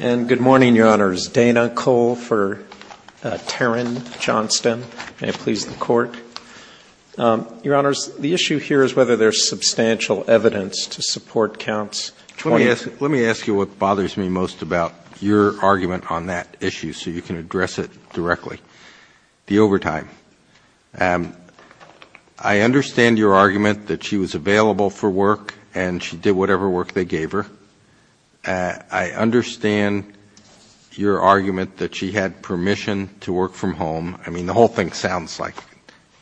And good morning, Your Honors. Dana Cole for Taryn Johnston. May it please the Court. Your Honors, the issue here is whether there's substantial evidence to support counts. Let me ask you what bothers me most about your argument on that issue so you can address it directly. The overtime. I understand your argument that she was available for work and she did whatever work they gave her. I understand your argument that she had permission to work from home. I mean, the whole thing sounds like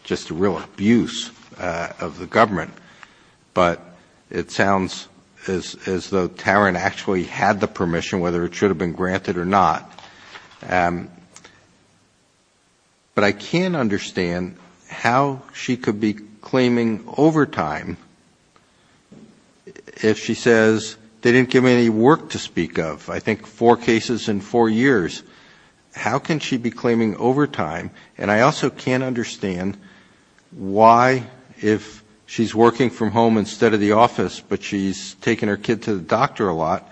just a real abuse of the government, but it sounds as though Taryn actually had the permission, whether it should have been granted or not. But I can understand how she could be claiming overtime if she says they didn't give me any work to speak of. I think four cases in four years. How can she be claiming overtime? And I also can't understand why, if she's working from home instead of the office, but she's taking her kid to the doctor a lot,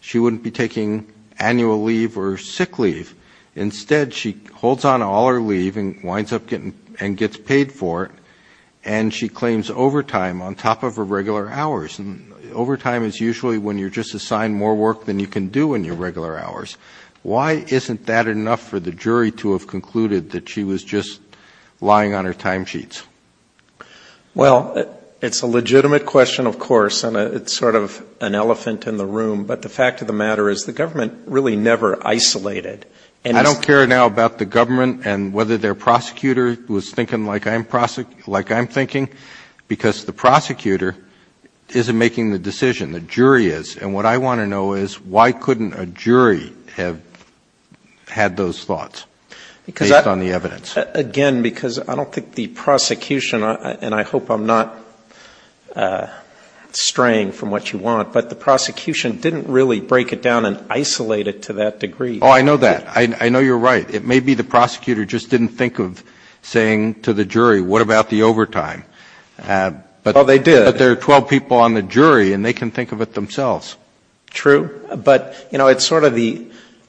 she wouldn't be taking annual leave or sick leave. Instead, she holds on to all her leave and winds up getting paid for it, and she claims overtime on top of her regular hours. Overtime is usually when you're just assigned more work than you can do in your regular hours. Why isn't that enough for the jury to have concluded that she was just lying on her timesheets? Well, it's a legitimate question, of course, and it's sort of an elephant in the room, but the fact of the matter is the government really never isolated. I don't care now about the government and whether their prosecutor was thinking like I'm thinking, because the prosecutor isn't making the decision, the jury is. And what I want to know is why couldn't a jury have had those thoughts based on the evidence? Again, because I don't think the prosecution, and I hope I'm not straying from what you want, but the prosecution didn't really break it down and isolate it to that degree. Oh, I know that. I know you're right. It may be the prosecutor just didn't think of saying to the jury, what about the overtime? Well, they did. But there are 12 people on the jury, and they can think of it themselves. True, but it's sort of the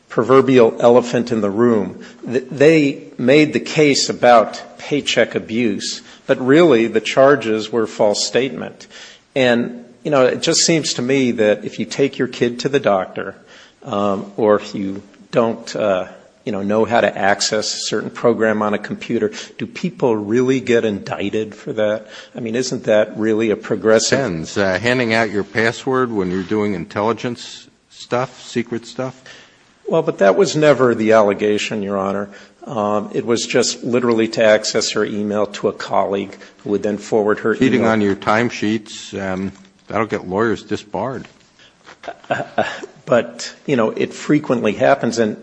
proverbial elephant in the room. They made the case about paycheck abuse, but really the charges were a false statement. And it just seems to me that if you take your kid to the doctor or if you don't know how to access a certain program on a computer, do people really get indicted for that? I mean, isn't that really a progressive? It depends. Handing out your password when you're doing intelligence stuff, secret stuff? Well, but that was never the allegation, Your Honor. It was just literally to access her e-mail to a colleague who had then forwarded her e-mail. Feeding on your time sheets. That would get lawyers disbarred. But, you know, it frequently happens, and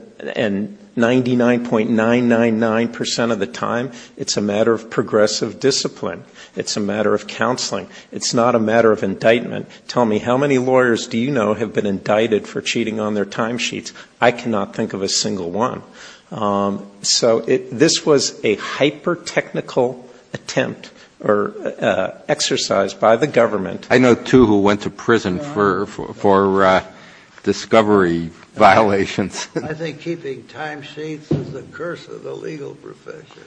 99.999% of the time it's a matter of progressive discipline. It's a matter of counseling. It's not a matter of indictment. Tell me, how many lawyers do you know have been indicted for cheating on their time sheets? I cannot think of a single one. So this was a hyper-technical attempt or exercise by the government. I know two who went to prison for discovery violations. I think keeping time sheets is the curse of the legal profession.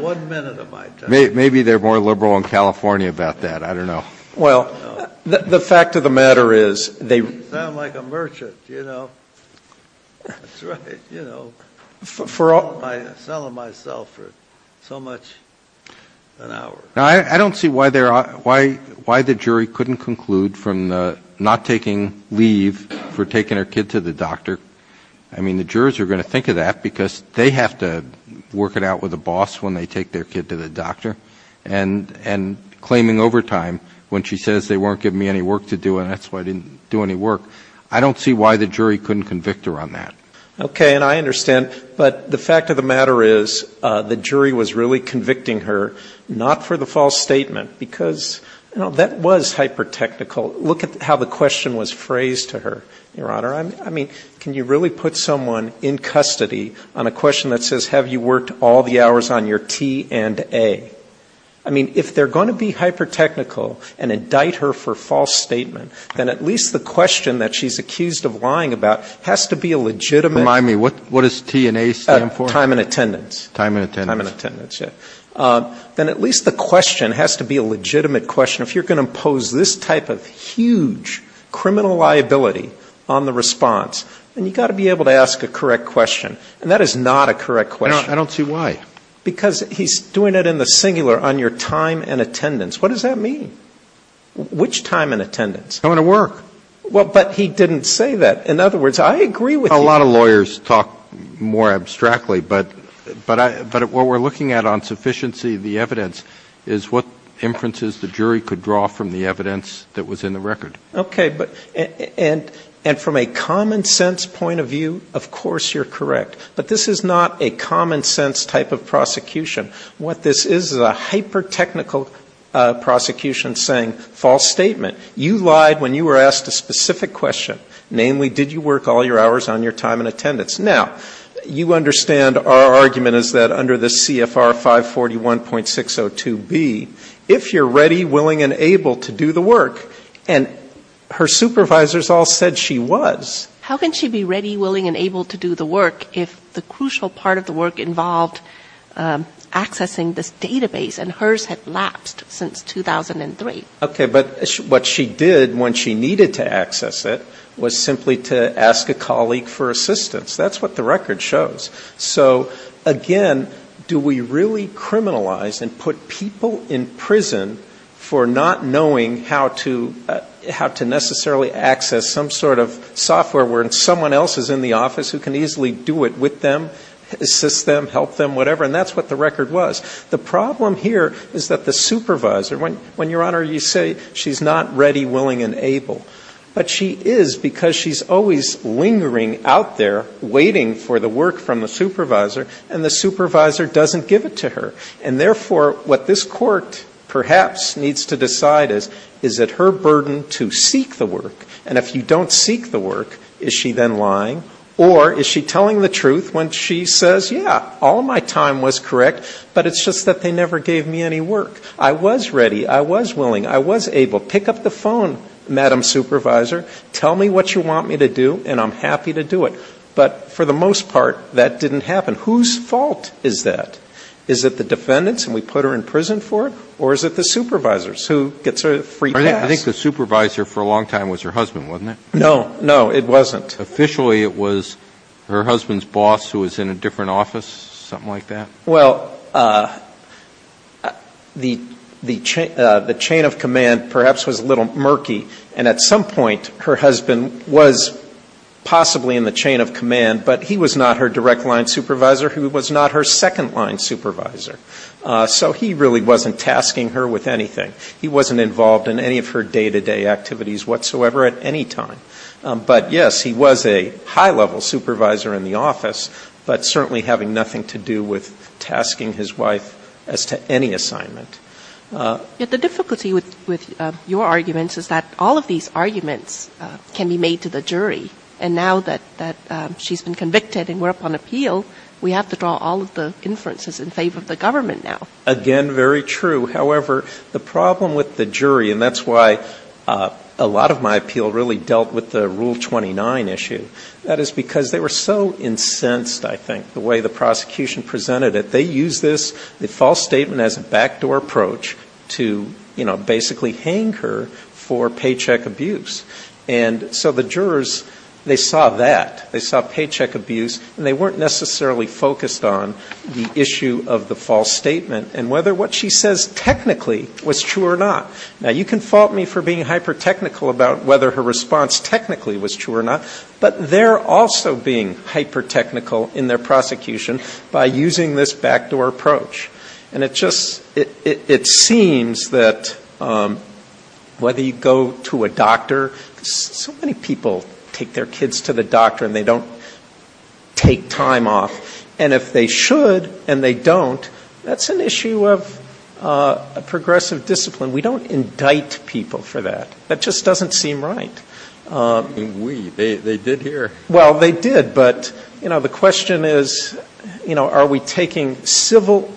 One minute of my time. Maybe they're more liberal in California about that. I don't know. Well, the fact of the matter is they – I sound like a merchant, you know. That's right, you know. I've been selling myself for so much an hour. I don't see why the jury couldn't conclude from not taking leave for taking her kid to the doctor. I mean, the jurors are going to think of that because they have to work it out with the boss when they take their kid to the doctor. And claiming overtime when she says they weren't giving me any work to do and that's why I didn't do any work. I don't see why the jury couldn't convict her on that. Okay, and I understand. But the fact of the matter is the jury was really convicting her not for the false statement because, you know, that was hyper-technical. Look at how the question was phrased to her, Your Honor. I mean, can you really put someone in custody on a question that says, have you worked all the hours on your T and A? I mean, if they're going to be hyper-technical and indict her for false statement, then at least the question that she's accused of lying about has to be a legitimate – Remind me, what does T and A stand for? Time and attendance. Time and attendance. Time and attendance, yes. Then at least the question has to be a legitimate question. If you're going to impose this type of huge criminal liability on the response, then you've got to be able to ask a correct question, and that is not a correct question. I don't see why. Because he's doing it in the singular on your time and attendance. What does that mean? Which time and attendance? Going to work. Well, but he didn't say that. In other words, I agree with you. A lot of lawyers talk more abstractly, but what we're looking at on sufficiency of the evidence is what inferences the jury could draw from the evidence that was in the record. Okay, and from a common-sense point of view, of course you're correct. But this is not a common-sense type of prosecution. What this is is a hyper-technical prosecution saying false statement. You lied when you were asked a specific question. Namely, did you work all your hours on your time and attendance? Now, you understand our argument is that under the CFR 541.602B, if you're ready, willing, and able to do the work, and her supervisors all said she was. How can she be ready, willing, and able to do the work if the crucial part of the work involved accessing this database, and hers had lapsed since 2003? Okay, but what she did when she needed to access it was simply to ask a colleague for assistance. That's what the record shows. So, again, do we really criminalize and put people in prison for not knowing how to necessarily access some sort of software where someone else is in the office who can easily do it with them, assist them, help them, whatever, and that's what the record was. The problem here is that the supervisor, when, Your Honor, you say she's not ready, willing, and able, but she is because she's always lingering out there waiting for the work from the supervisor, and the supervisor doesn't give it to her. And, therefore, what this court perhaps needs to decide is, is it her burden to seek the work? And if you don't seek the work, is she then lying, or is she telling the truth when she says, yeah, all my time was correct, but it's just that they never gave me any work. I was ready, I was willing, I was able. Pick up the phone, Madam Supervisor, tell me what you want me to do, and I'm happy to do it. But for the most part, that didn't happen. Whose fault is that? Is it the defendant's, and we put her in prison for it, or is it the supervisor's who gets a free pass? I think the supervisor for a long time was her husband, wasn't it? No, no, it wasn't. Officially, it was her husband's boss who was in a different office, something like that? Well, the chain of command perhaps was a little murky, and at some point her husband was possibly in the chain of command, but he was not her direct line supervisor who was not her second line supervisor. So he really wasn't tasking her with anything. He wasn't involved in any of her day-to-day activities whatsoever at any time. But, yes, he was a high-level supervisor in the office, but certainly having nothing to do with tasking his wife as to any assignment. The difficulty with your arguments is that all of these arguments can be made to the jury, and now that she's been convicted and we're up on appeal, we have to draw all of the inferences in favor of the government now. Again, very true. However, the problem with the jury, and that's why a lot of my appeal really dealt with the Rule 29 issue, that is because they were so incensed, I think, the way the prosecution presented it. They used this false statement as a backdoor approach to basically hang her for paycheck abuse. And so the jurors, they saw that. They saw paycheck abuse, and they weren't necessarily focused on the issue of the false statement and whether what she says technically was true or not. Now, you can fault me for being hyper-technical about whether her response technically was true or not, but they're also being hyper-technical in their prosecution by using this backdoor approach. And it just seems that whether you go to a doctor, because so many people take their kids to the doctor and they don't take time off, and if they should and they don't, that's an issue of progressive discipline. We don't indict people for that. That just doesn't seem right. They did here. Well, they did, but the question is, are we taking civil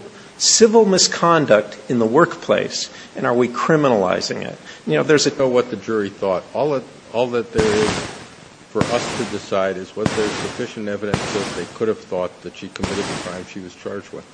misconduct in the workplace, and are we criminalizing it? I don't know what the jury thought. All that there is for us to decide is whether there's sufficient evidence that they could have thought that she committed the crime she was charged with.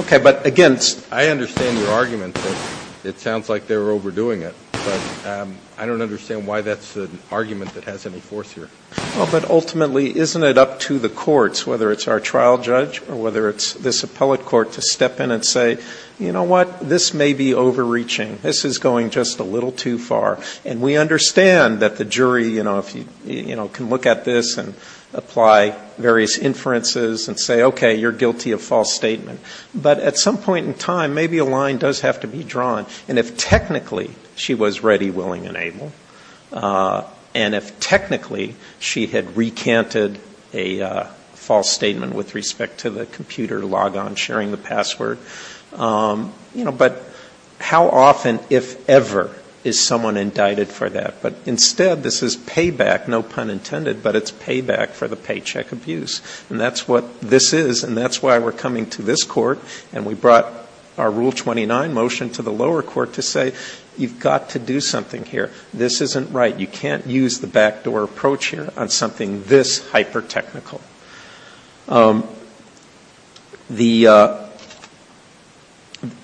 Okay, but again, I understand your argument that it sounds like they're overdoing it, but I don't understand why that's an argument that has any force here. Well, but ultimately, isn't it up to the courts, whether it's our trial judge or whether it's this appellate court, to step in and say, you know what? This may be overreaching. This is going just a little too far. And we understand that the jury can look at this and apply various inferences and say, okay, you're guilty of false statement. But at some point in time, maybe a line does have to be drawn, and if technically she was ready, willing, and able, and if technically she had recanted a false statement with respect to the computer, but how often, if ever, is someone indicted for that? But instead, this is payback, no pun intended, but it's payback for the paycheck abuse. And that's what this is, and that's why we're coming to this court, and we brought our Rule 29 motion to the lower court to say, you've got to do something here. This isn't right. You can't use the backdoor approach here on something this hyper-technical.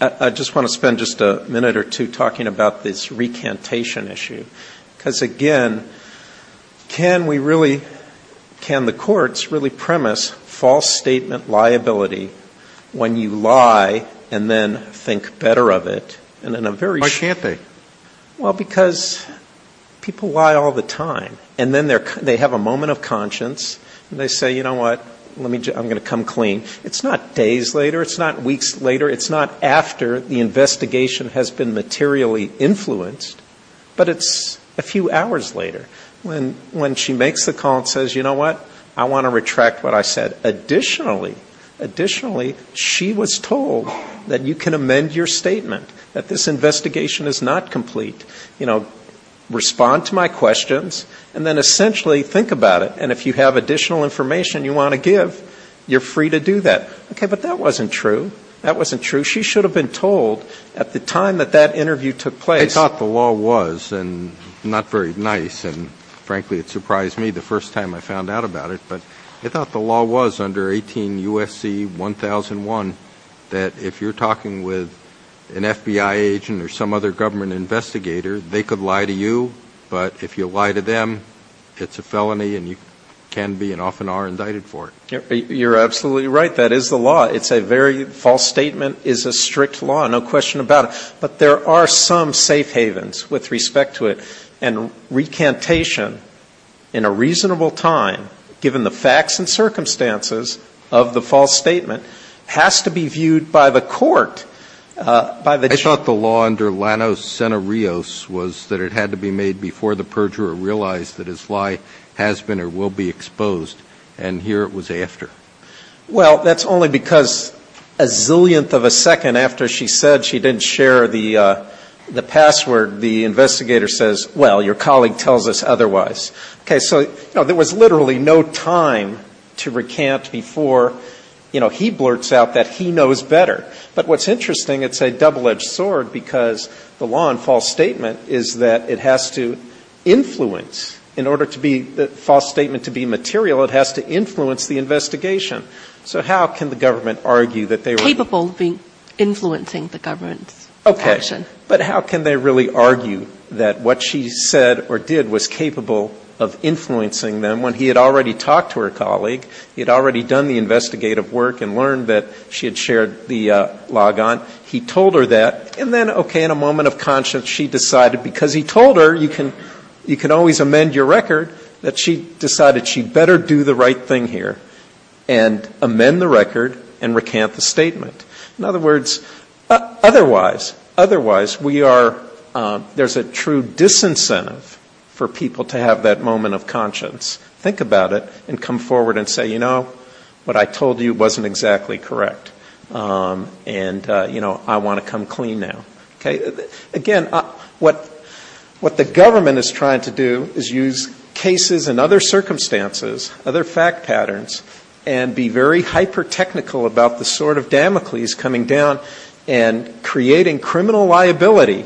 I just want to spend just a minute or two talking about this recantation issue, because, again, can the courts really premise false statement liability when you lie and then think better of it? Why can't they? Well, because people lie all the time, and then they have a moment of conscience, and they say, you know what, I'm going to come clean. It's not days later, it's not weeks later, it's not after the investigation has been materially influenced, but it's a few hours later when she makes the call and says, you know what, I want to retract what I said. Additionally, she was told that you can amend your statement, that this investigation is not complete. Respond to my questions, and then essentially think about it, and if you have additional information you want to give, you're free to do that. Okay, but that wasn't true. That wasn't true. She should have been told at the time that that interview took place. I thought the law was, and not very nice, and frankly it surprised me the first time I found out about it, but I thought the law was under 18 UFC 1001 that if you're talking with an FBI agent or some other government investigator, they could lie to you, but if you lie to them, it's a felony and you can be and often are indicted for it. You're absolutely right. That is the law. It's a very, false statement is a strict law, no question about it. But there are some safe havens with respect to it, and recantation in a reasonable time, given the facts and circumstances of the false statement, has to be viewed by the court. I thought the law under Lanos Centurios was that it had to be made before the perjurer realized that his lie has been or will be exposed, and here it was after. Well, that's only because a zillionth of a second after she said she didn't share the password, the investigator says, well, your colleague tells us otherwise. Okay, so there was literally no time to recant before he blurts out that he knows better. But what's interesting, it's a double-edged sword, because the law in false statement is that it has to influence. In order for the false statement to be material, it has to influence the investigation. So how can the government argue that they were... Capable of influencing the government. Okay, but how can they really argue that what she said or did was capable of influencing them when he had already talked to her colleague, he had already done the investigative work and learned that she had shared the logon, he told her that, and then, okay, in a moment of conscience, she decided because he told her you can always amend your record, that she decided she better do the right thing here and amend the record and recant the statement. In other words, otherwise, we are... There's a true disincentive for people to have that moment of conscience. Think about it and come forward and say, you know, what I told you wasn't exactly correct. And, you know, I want to come clean now. Again, what the government is trying to do is use cases and other circumstances, other fact patterns, and be very hyper-technical about the sword of Damocles coming down and creating criminal liability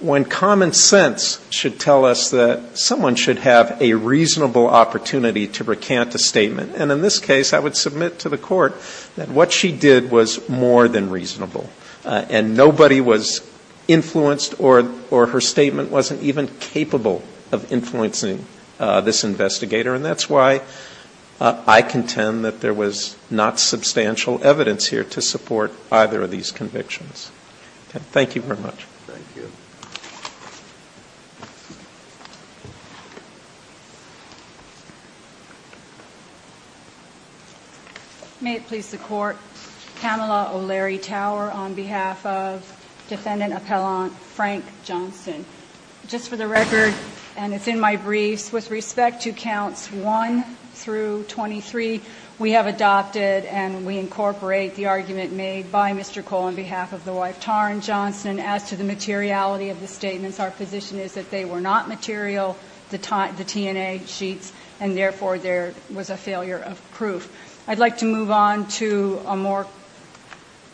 when common sense should tell us that someone should have a reasonable opportunity to recant the statement. And in this case, I would submit to the court that what she did was more than reasonable and nobody was influenced or her statement wasn't even capable of influencing this investigator. And that's why I contend that there was not substantial evidence here to support either of these convictions. Thank you very much. Thank you. May it please the court. Pamela O'Leary Tower on behalf of Defendant Appellant Frank Johnson. Just for the record, and it's in my brief, with respect to counts 1 through 23, we have adopted and we incorporate the argument made by Mr. Cole on behalf of the wife Taryn Johnson as to the materiality of the statements. Our position is that they were not material, the TNA sheets, and therefore there was a failure of proof. I'd like to move on to a more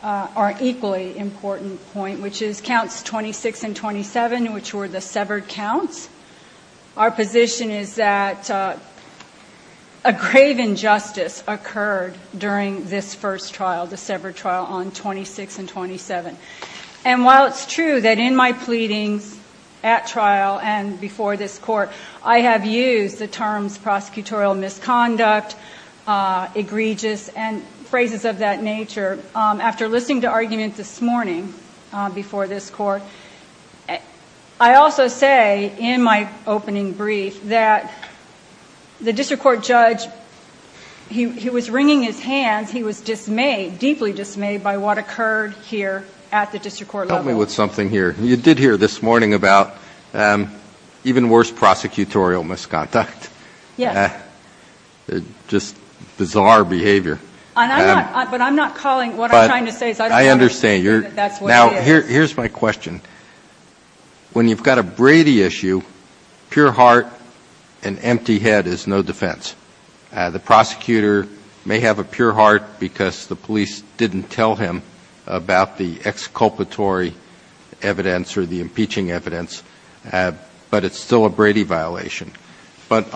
or equally important point, which is counts 26 and 27, which were the severed counts. Our position is that a grave injustice occurred during this first trial, the severed trial on 26 and 27. And while it's true that in my pleading at trial and before this court, I have used the terms prosecutorial misconduct, egregious, and phrases of that nature, after listening to arguments this morning before this court, I also say in my opening brief that the district court judge, he was wringing his hand, he was dismayed, deeply dismayed by what occurred here at the district court level. Help me with something here. You did hear this morning about even worse prosecutorial misconduct. Yes. Just bizarre behavior. But I'm not calling what I'm trying to say. I understand. Now, here's my question. When you've got a Brady issue, pure heart and empty head is no defense. The prosecutor may have a pure heart because the police didn't tell him about the exculpatory evidence or the impeaching evidence, but it's still a Brady violation. But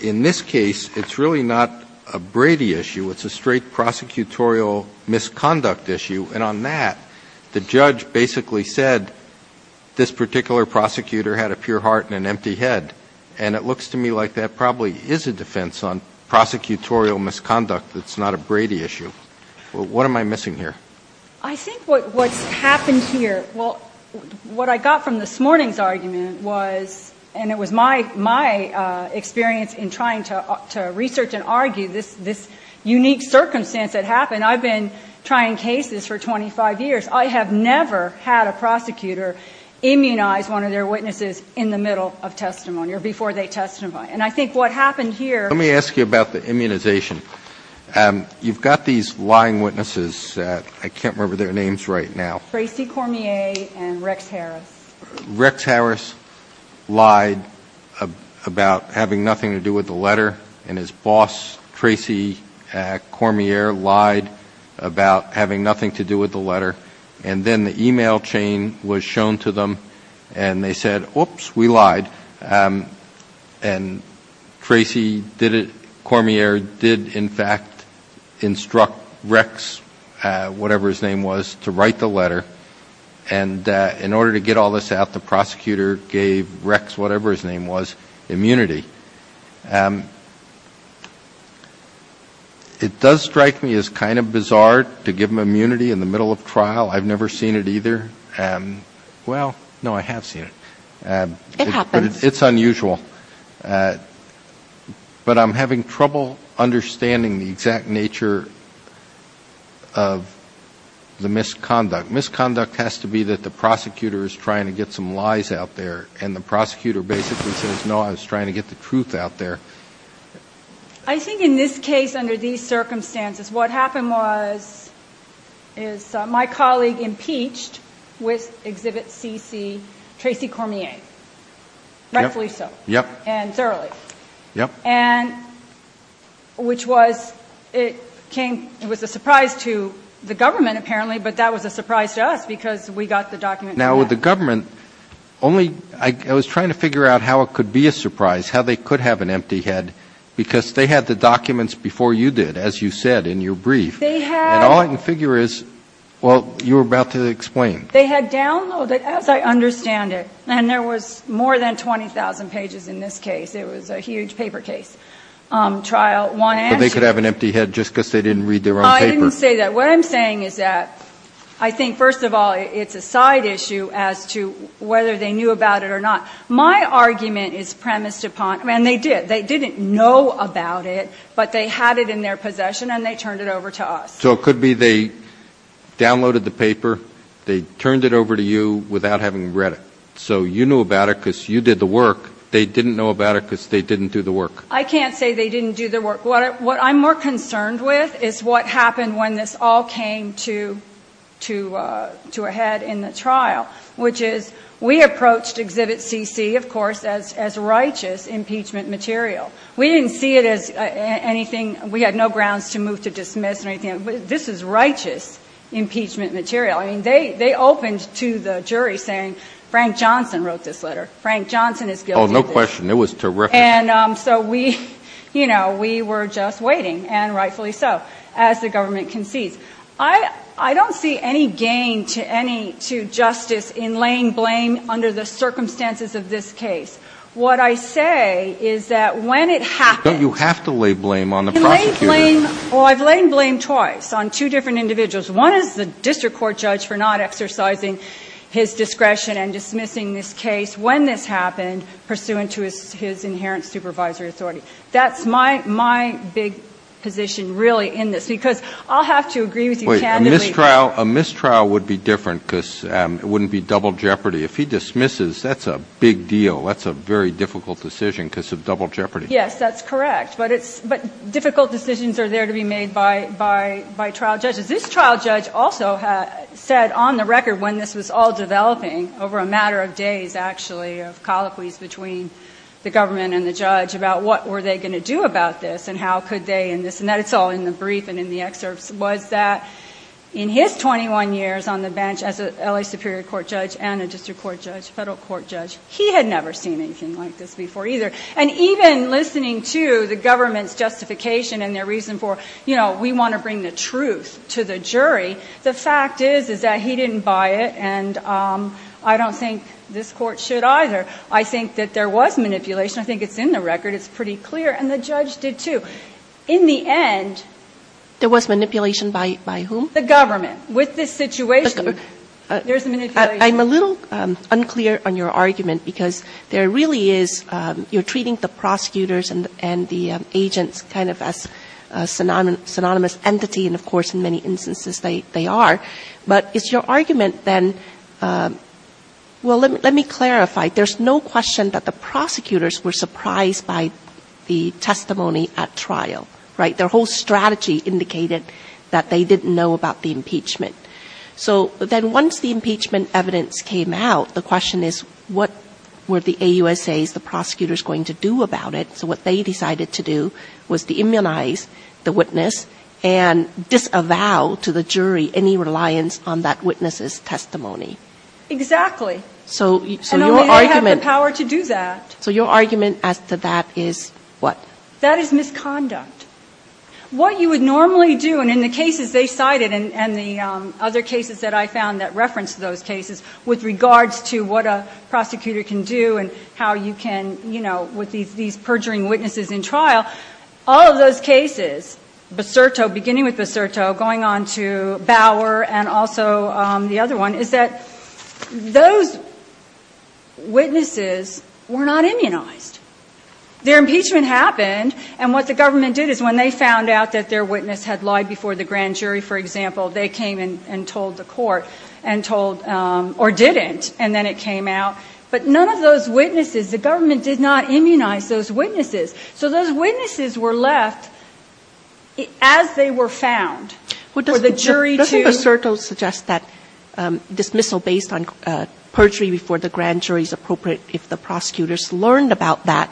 in this case, it's really not a Brady issue. It's a straight prosecutorial misconduct issue. And on that, the judge basically said this particular prosecutor had a pure heart and an empty head. And it looks to me like that probably is a defense on prosecutorial misconduct. It's not a Brady issue. What am I missing here? I think what happened here, well, what I got from this morning's argument was, and it was my experience in trying to research and argue this unique circumstance that happened. I've been trying cases for 25 years. I have never had a prosecutor immunize one of their witnesses in the middle of testimony or before they testified. And I think what happened here Let me ask you about the immunization. You've got these lying witnesses. I can't remember their names right now. Tracy Cormier and Rex Harris. Rex Harris lied about having nothing to do with the letter, and his boss, Tracy Cormier, lied about having nothing to do with the letter. And then the e-mail chain was shown to them, and they said, oops, we lied. And Tracy Cormier did, in fact, instruct Rex, whatever his name was, to write the letter. And in order to get all this out, the prosecutor gave Rex, whatever his name was, immunity. It does strike me as kind of bizarre to give them immunity in the middle of trial. I've never seen it either. Well, no, I have seen it. It happens. It's unusual. But I'm having trouble understanding the exact nature of the misconduct. Misconduct has to be that the prosecutor is trying to get some lies out there, and the prosecutor basically says, no, I was trying to get the truth out there. I think in this case, under these circumstances, what happened was my colleague impeached with Exhibit CC Tracy Cormier. Rex Lisa and Sara Lee, which was a surprise to the government apparently, but that was a surprise to us because we got the documents. Now, with the government, I was trying to figure out how it could be a surprise, how they could have an empty head, because they had the documents before you did, as you said in your brief. And all I can figure is, well, you were about to explain. They had downloaded, as I understand it, and there was more than 20,000 pages in this case. It was a huge paper case. They could have an empty head just because they didn't read their own paper. I didn't say that. What I'm saying is that I think, first of all, it's a side issue as to whether they knew about it or not. My argument is premised upon, and they did, they didn't know about it, but they had it in their possession and they turned it over to us. So it could be they downloaded the paper, they turned it over to you without having read it. So you knew about it because you did the work. They didn't know about it because they didn't do the work. I can't say they didn't do the work. What I'm more concerned with is what happened when this all came to a head in the trial, which is we approached Exhibit CC, of course, as righteous impeachment material. We didn't see it as anything, we had no grounds to move to dismiss anything. This is righteous impeachment material. I mean, they opened to the jury saying Frank Johnson wrote this letter. Frank Johnson is guilty of this. Oh, no question. It was terrific. And so we, you know, we were just waiting, and rightfully so, as the government concedes. I don't see any gain to justice in laying blame under the circumstances of this case. What I say is that when it happened- But you have to lay blame on the prosecutors. Well, I've laid blame twice on two different individuals. One is the district court judge for not exercising his discretion and dismissing this case when this happened, pursuant to his inherent supervisory authority. That's my big position really in this, because I'll have to agree with you candidly- Wait, a mistrial would be different because it wouldn't be double jeopardy. If he dismisses, that's a big deal. That's a very difficult decision because of double jeopardy. Yes, that's correct. But difficult decisions are there to be made by trial judges. This trial judge also said on the record when this was all developing over a matter of days, actually, a colloquy between the government and the judge about what were they going to do about this and how could they in this, and that's all in the brief and in the excerpts, was that in his 21 years on the bench as an L.A. Superior Court judge and a district court judge, federal court judge, he had never seen anything like this before either. And even listening to the government's justification and their reason for, you know, we want to bring the truth to the jury, the fact is that he didn't buy it and I don't think this court should either. I think that there was manipulation. I think it's in the record. It's pretty clear. And the judge did too. In the end, there was manipulation by whom? The government. With this situation, there's manipulation. I'm a little unclear on your argument because there really is, you're treating the prosecutors and the agents kind of as a synonymous entity and, of course, in many instances they are. But it's your argument then, well, let me clarify. There's no question that the prosecutors were surprised by the testimony at trial, right? Their whole strategy indicated that they didn't know about the impeachment. So then once the impeachment evidence came out, the question is what were the AUSAs, the prosecutors, going to do about it? So what they decided to do was to immunize the witness and disavow to the jury any reliance on that witness's testimony. Exactly. And only they have the power to do that. So your argument at the back is what? That is misconduct. What you would normally do, and in the cases they cited and the other cases that I found that referenced those cases, with regards to what a prosecutor can do and how you can, you know, with these perjuring witnesses in trial, all of those cases, Becerto, beginning with Becerto, going on to Bauer and also the other one, is that those witnesses were not immunized. Their impeachment happened, and what the government did is when they found out that their witness had lied before the grand jury, for example, they came and told the court, or didn't, and then it came out. But none of those witnesses, the government did not immunize those witnesses. So those witnesses were left as they were found for the jury to- But doesn't Becerto suggest that dismissal based on perjury before the grand jury is appropriate if the prosecutors learned about that-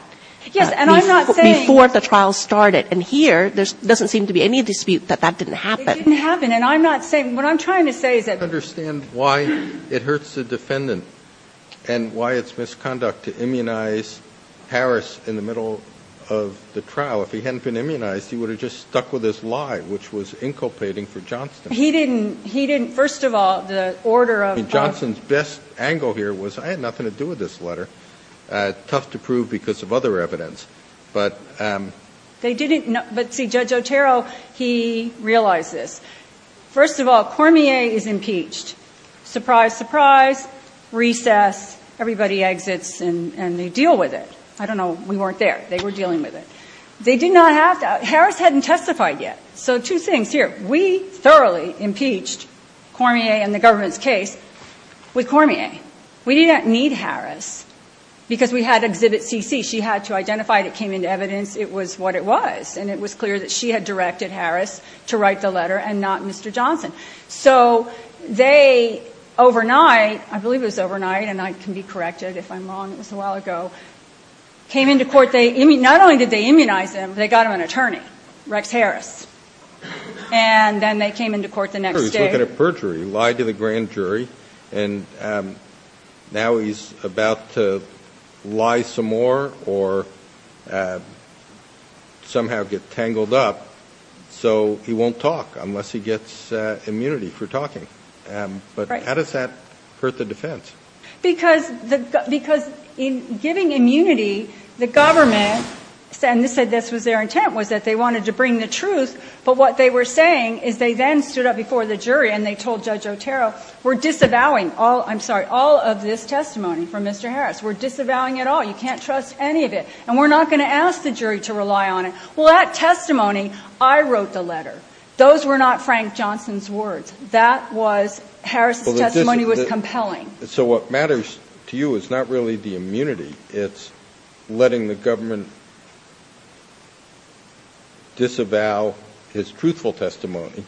Yes, and I'm not saying- Before the trial started, and here there doesn't seem to be any dispute that that didn't happen. It didn't happen, and I'm not saying, what I'm trying to say is that- I don't understand why it hurts the defendant and why it's misconduct to immunize Harris in the middle of the trial. If he hadn't been immunized, he would have just stuck with his lie, which was inculpating for Johnson. He didn't, first of all, the order of- I mean, Johnson's best angle here was, I had nothing to do with this letter. Tough to prove because of other evidence, but- But see, Judge Otero, he realized this. First of all, Cormier is impeached. Surprise, surprise, recess, everybody exits and they deal with it. I don't know, we weren't there. They were dealing with it. They did not have to- Harris hadn't testified yet. So two things here. We thoroughly impeached Cormier and the government's case with Cormier. We didn't need Harris because we had Exhibit CC. She had to identify it. It came into evidence. It was what it was. And it was clear that she had directed Harris to write the letter and not Mr. Johnson. So they overnight, I believe it was overnight and I can be corrected if I'm wrong, it was a while ago, came into court. Not only did they immunize him, they got him an attorney, Rex Harris. And then they came into court the next day. He was looking at perjury. He lied to the grand jury. And now he's about to lie some more or somehow get tangled up so he won't talk unless he gets immunity for talking. But how does that hurt the defense? Because in giving immunity, the government said this was their intent, was that they wanted to bring the truth. But what they were saying is they then stood up before the jury and they told Judge Otero, we're disavowing all of this testimony from Mr. Harris. We're disavowing it all. You can't trust any of it. And we're not going to ask the jury to rely on it. Well, that testimony, I wrote the letter. Those were not Frank Johnson's words. That was Harris' testimony was compelling. So what matters to you is not really the immunity. It's letting the government disavow his truthful testimony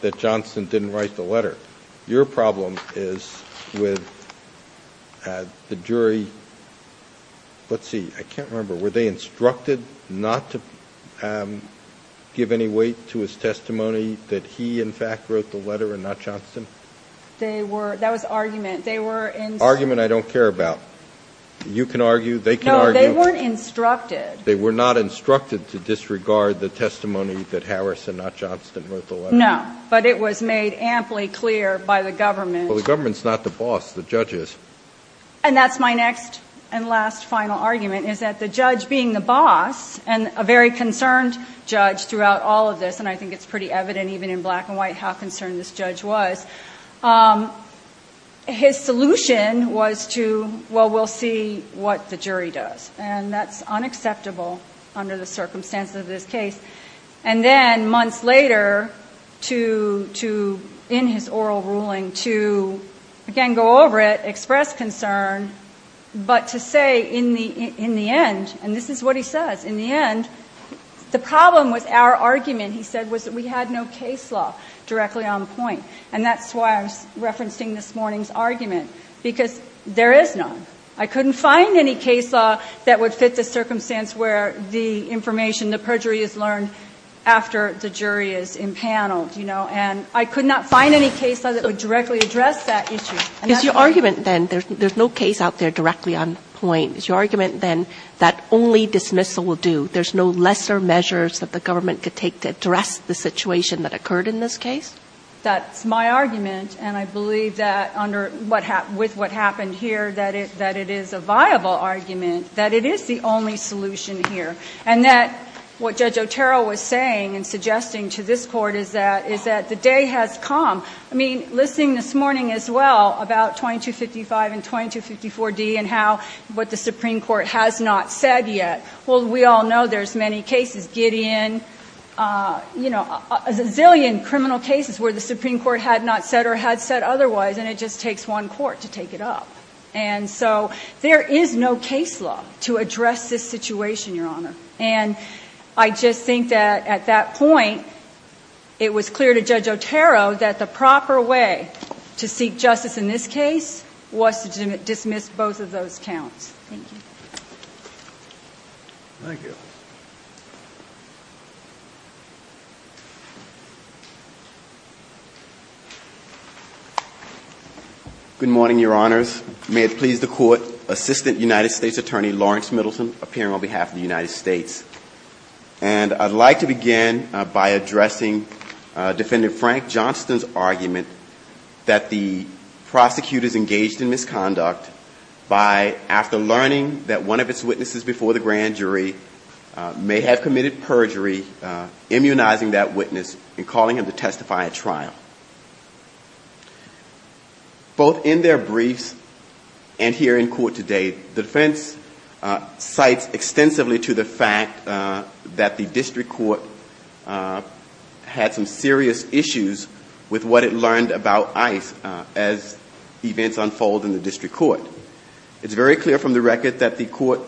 that Johnson didn't write the letter. Your problem is with the jury. Let's see. I can't remember. Were they instructed not to give any weight to his testimony that he, in fact, wrote the letter and not Johnson? That was argument. Argument I don't care about. You can argue. They can argue. No, they were instructed. They were not instructed to disregard the testimony that Harris and not Johnson wrote the letter. No, but it was made amply clear by the government. Well, the government's not the boss. The judge is. And that's my next and last final argument is that the judge being the boss and a very concerned judge throughout all of this, and I think it's pretty evident even in black and white how concerned this judge was, his solution was to, well, we'll see what the jury does. And that's unacceptable under the circumstances of this case. And then months later, in his oral ruling, to, again, go over it, express concern, but to say in the end, and this is what he says, in the end, the problem with our argument, and he said was that we had no case law directly on point. And that's why I'm referencing this morning's argument, because there is none. I couldn't find any case law that would fit the circumstance where the information, the perjury is learned after the jury is impaneled. And I could not find any case law that would directly address that issue. It's your argument, then, there's no case out there directly on point. It's your argument, then, that only dismissal will do. There's no lesser measures that the government could take to address the situation that occurred in this case? That's my argument, and I believe that with what happened here that it is a viable argument, that it is the only solution here, and that what Judge Otero was saying and suggesting to this Court is that the day has come. I mean, listening this morning as well about 2255 and 2254D and what the Supreme Court has not said yet, well, we all know there's many cases, Gideon, you know, a zillion criminal cases where the Supreme Court had not said or had said otherwise, and it just takes one court to take it up. And so there is no case law to address this situation, Your Honor. And I just think that at that point it was clear to Judge Otero that the proper way to seek justice in this case was to dismiss both of those counts. Thank you. Good morning, Your Honors. May it please the Court, Assistant United States Attorney Lawrence Middleton appearing on behalf of the United States. And I'd like to begin by addressing Defendant Frank Johnston's argument that the prosecutor's engaged in misconduct by, after learning that one of its witnesses before the grand jury may have committed perjury, immunizing that witness and calling him to testify at trial. Both in their brief and here in court today, defense cites extensively to the fact that the district court had some serious issues with what it learned about ICE as events unfold in the district court. It's very clear from the record that the court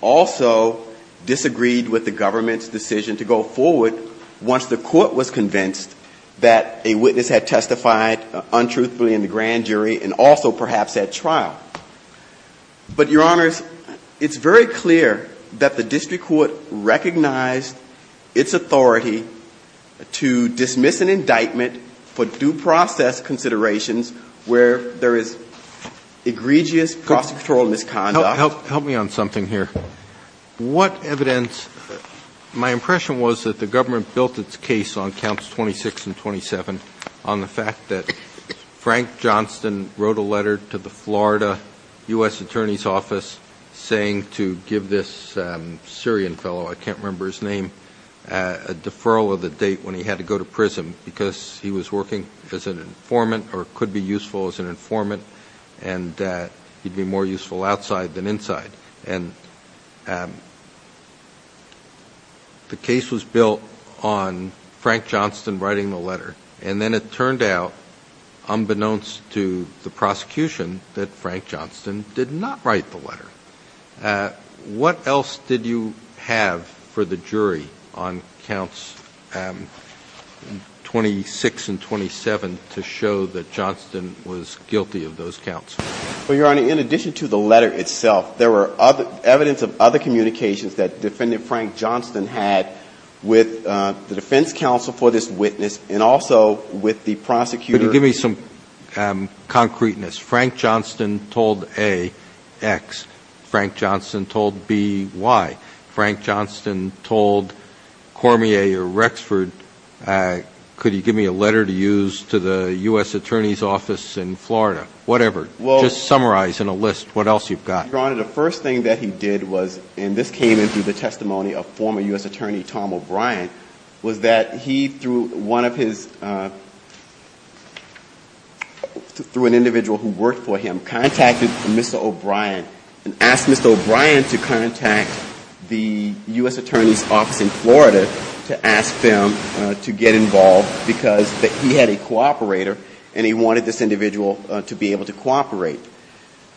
also disagreed with the government's decision to go forward once the court was convinced that a witness had testified untruthfully in the grand jury and also perhaps at trial. But, Your Honors, it's very clear that the district court recognized its authority to dismiss an indictment for due process considerations where there is egregious cross-sectoral misconduct. Help me on something here. What evidence, my impression was that the government built its case on counts 26 and 27 and on the fact that Frank Johnston wrote a letter to the Florida U.S. Attorney's Office saying to give this Syrian fellow, I can't remember his name, a deferral of the date when he had to go to prison because he was working as an informant or could be useful as an informant and he'd be more useful outside than inside. And the case was built on Frank Johnston writing the letter and then it turned out, unbeknownst to the prosecution, that Frank Johnston did not write the letter. What else did you have for the jury on counts 26 and 27 to show that Johnston was guilty of those counts? Well, Your Honor, in addition to the letter itself, there were evidence of other communications that Defendant Frank Johnston had with the defense counsel for this witness and also with the prosecutor. Could you give me some concreteness? Frank Johnston told A, X. Frank Johnston told B, Y. Frank Johnston told Cormier or Rexford, could you give me a letter to use to the U.S. Attorney's Office in Florida? Whatever. Just summarize in a list what else you've got. Your Honor, the first thing that he did was, and this came into the testimony of former U.S. Attorney Tom O'Brien, was that he, through an individual who worked for him, contacted Mr. O'Brien and asked Mr. O'Brien to contact the U.S. Attorney's Office in Florida to ask them to get involved because he had a cooperator and he wanted this individual to be able to cooperate.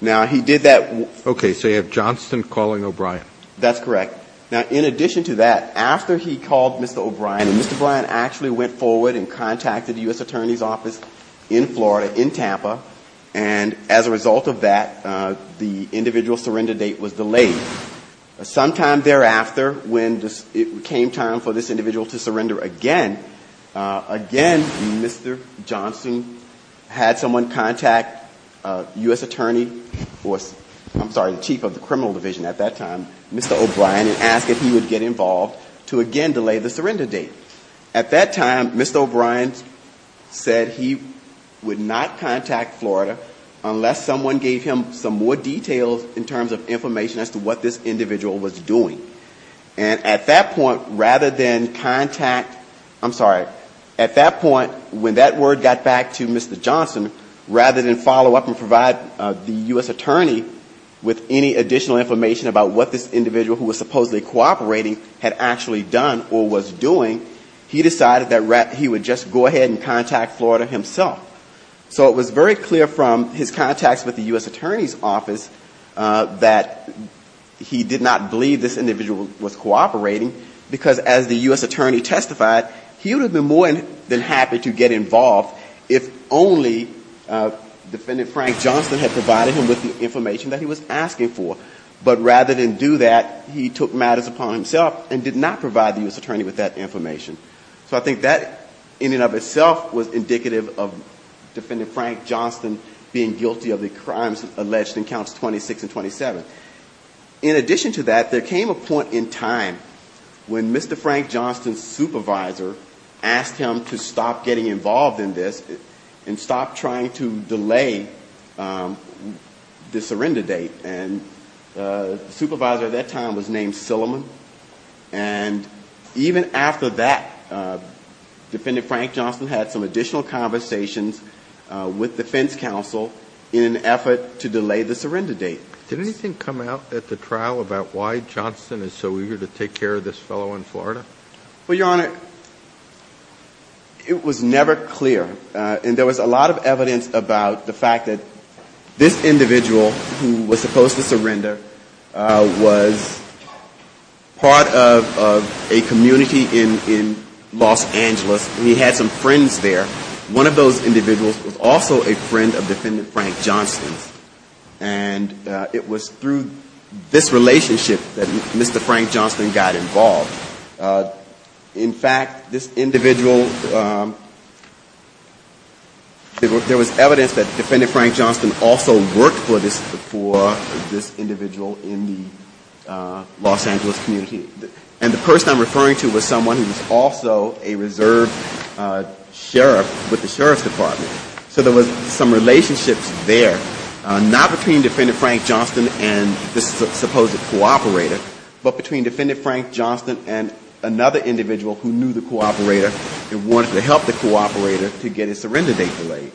Now, he did that. Okay, so you have Johnston calling O'Brien. That's correct. Now, in addition to that, after he called Mr. O'Brien, and Mr. O'Brien actually went forward and contacted the U.S. Attorney's Office in Florida, in Tampa, and as a result of that, the individual's surrender date was delayed. Sometime thereafter, when it came time for this individual to surrender again, again, Mr. Johnston had someone contact U.S. Attorney, or I'm sorry, the Chief of the Criminal Division at that time, Mr. O'Brien, and asked that he would get involved to again delay the surrender date. At that time, Mr. O'Brien said he would not contact Florida unless someone gave him some more details in terms of information as to what this individual was doing. At that point, when that word got back to Mr. Johnston, rather than follow up and provide the U.S. Attorney with any additional information about what this individual who was supposedly cooperating had actually done or was doing, he decided that he would just go ahead and contact Florida himself. So it was very clear from his contacts with the U.S. Attorney's Office that he did not believe this individual was cooperating, because as the U.S. Attorney testified, he would have been more than happy to get involved if only Defendant Frank Johnston had provided him with the information that he was asking for. But rather than do that, he took matters upon himself and did not provide the U.S. Attorney with that information. So I think that in and of itself was indicative of Defendant Frank Johnston being guilty of the crimes alleged in Counts 26 and 27. In addition to that, there came a point in time when Mr. Frank Johnston's supervisor asked him to stop getting involved in this and stop trying to delay the surrender date. The supervisor at that time was named Silliman. And even after that, Defendant Frank Johnston had some additional conversations with defense counsel in an effort to delay the surrender date. Did anything come out at the trial about why Johnston is so eager to take care of this fellow in Florida? Well, Your Honor, it was never clear. And there was a lot of evidence about the fact that this individual who was supposed to surrender was part of a community in Los Angeles, and he had some friends there. One of those individuals was also a friend of Defendant Frank Johnston. And it was through this relationship that Mr. Frank Johnston got involved. In fact, there was evidence that Defendant Frank Johnston also worked for this individual in the Los Angeles community. And the person I'm referring to was someone who was also a reserve sheriff with the Sheriff's Department. So there was some relationship there, not between Defendant Frank Johnston and this supposed cooperator, but between Defendant Frank Johnston and another individual who knew the cooperator and wanted to help the cooperator to get his surrender date delayed.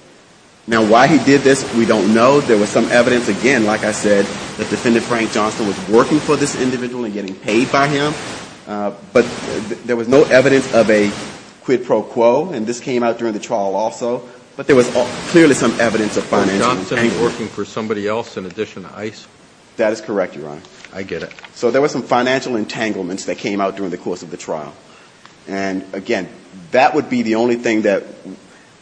Now, why he did this, we don't know. There was some evidence, again, like I said, that Defendant Frank Johnston was working for this individual and getting paid by him. But there was no evidence of a quid pro quo, and this came out during the trial also. But there was clearly some evidence of financial... Was Johnston working for somebody else in addition to ICE? That is correct, Your Honor. I get it. So there was some financial entanglements that came out during the course of the trial. And again, that would be the only thing that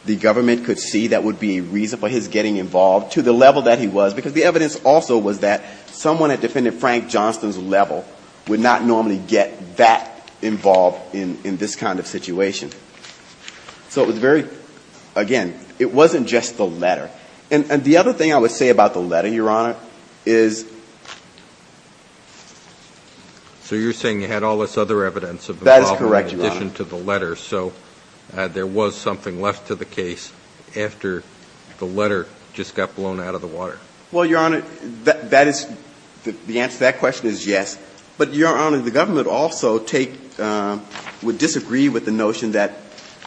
the government could see that would be reason for his getting involved to the level that he was, because the evidence also was that someone at Defendant Frank Johnston's level would not normally get that involved in this kind of situation. And the other thing I would say about the letter, Your Honor, is... So you're saying you had all this other evidence of the problem in addition to the letter, so there was something left to the case after the letter just got blown out of the water. Well, Your Honor, the answer to that question is yes. But, Your Honor, the government also would disagree with the notion that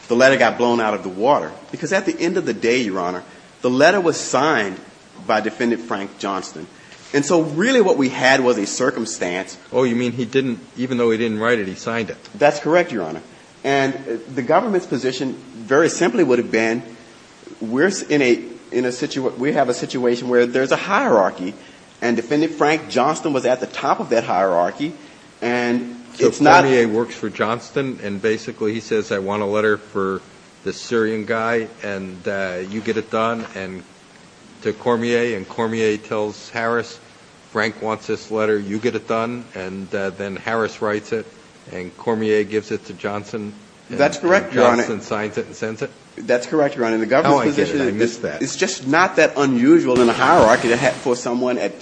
the letter got blown out of the water, because at the end of the day, Your Honor, the letter was signed by Defendant Frank Johnston. And so really what we had was a circumstance... Oh, you mean even though he didn't write it, he signed it. That's correct, Your Honor. And the government's position very simply would have been, we have a situation where there's a hierarchy, and Defendant Frank Johnston was at the top of that hierarchy, and it's not a... And to Cormier, and Cormier tells Harris, Frank wants this letter, you get it done. And then Harris writes it, and Cormier gives it to Johnston. That's correct, Your Honor. And Johnston signs it and sends it. That's correct, Your Honor. How I did it, I missed that. It's just not that unusual in the hierarchy for someone at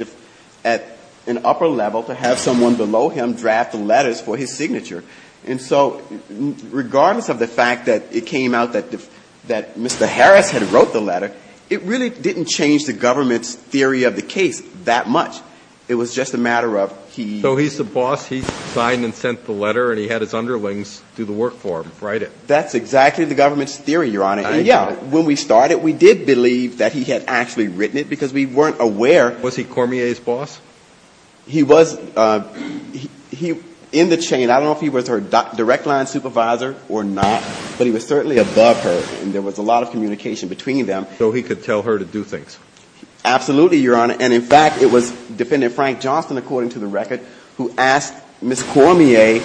an upper level to have someone below him draft the letters for his signature. And so regardless of the fact that it came out that Mr. Harris had wrote the letter, it really didn't change the government's theory of the case that much. It was just a matter of he... So he's the boss, he signed and sent the letter, and he had his underlings do the work for him, write it. That's exactly the government's theory, Your Honor. And yeah, when we started, we did believe that he had actually written it, because we weren't aware... Was he Cormier's boss? He was in the chain. I don't know if he was her direct line supervisor or not, but he was certainly above her, and there was a lot of communication between them. So he could tell her to do things. Absolutely, Your Honor. And in fact, it was Defendant Frank Johnston, according to the record, who asked Ms. Cormier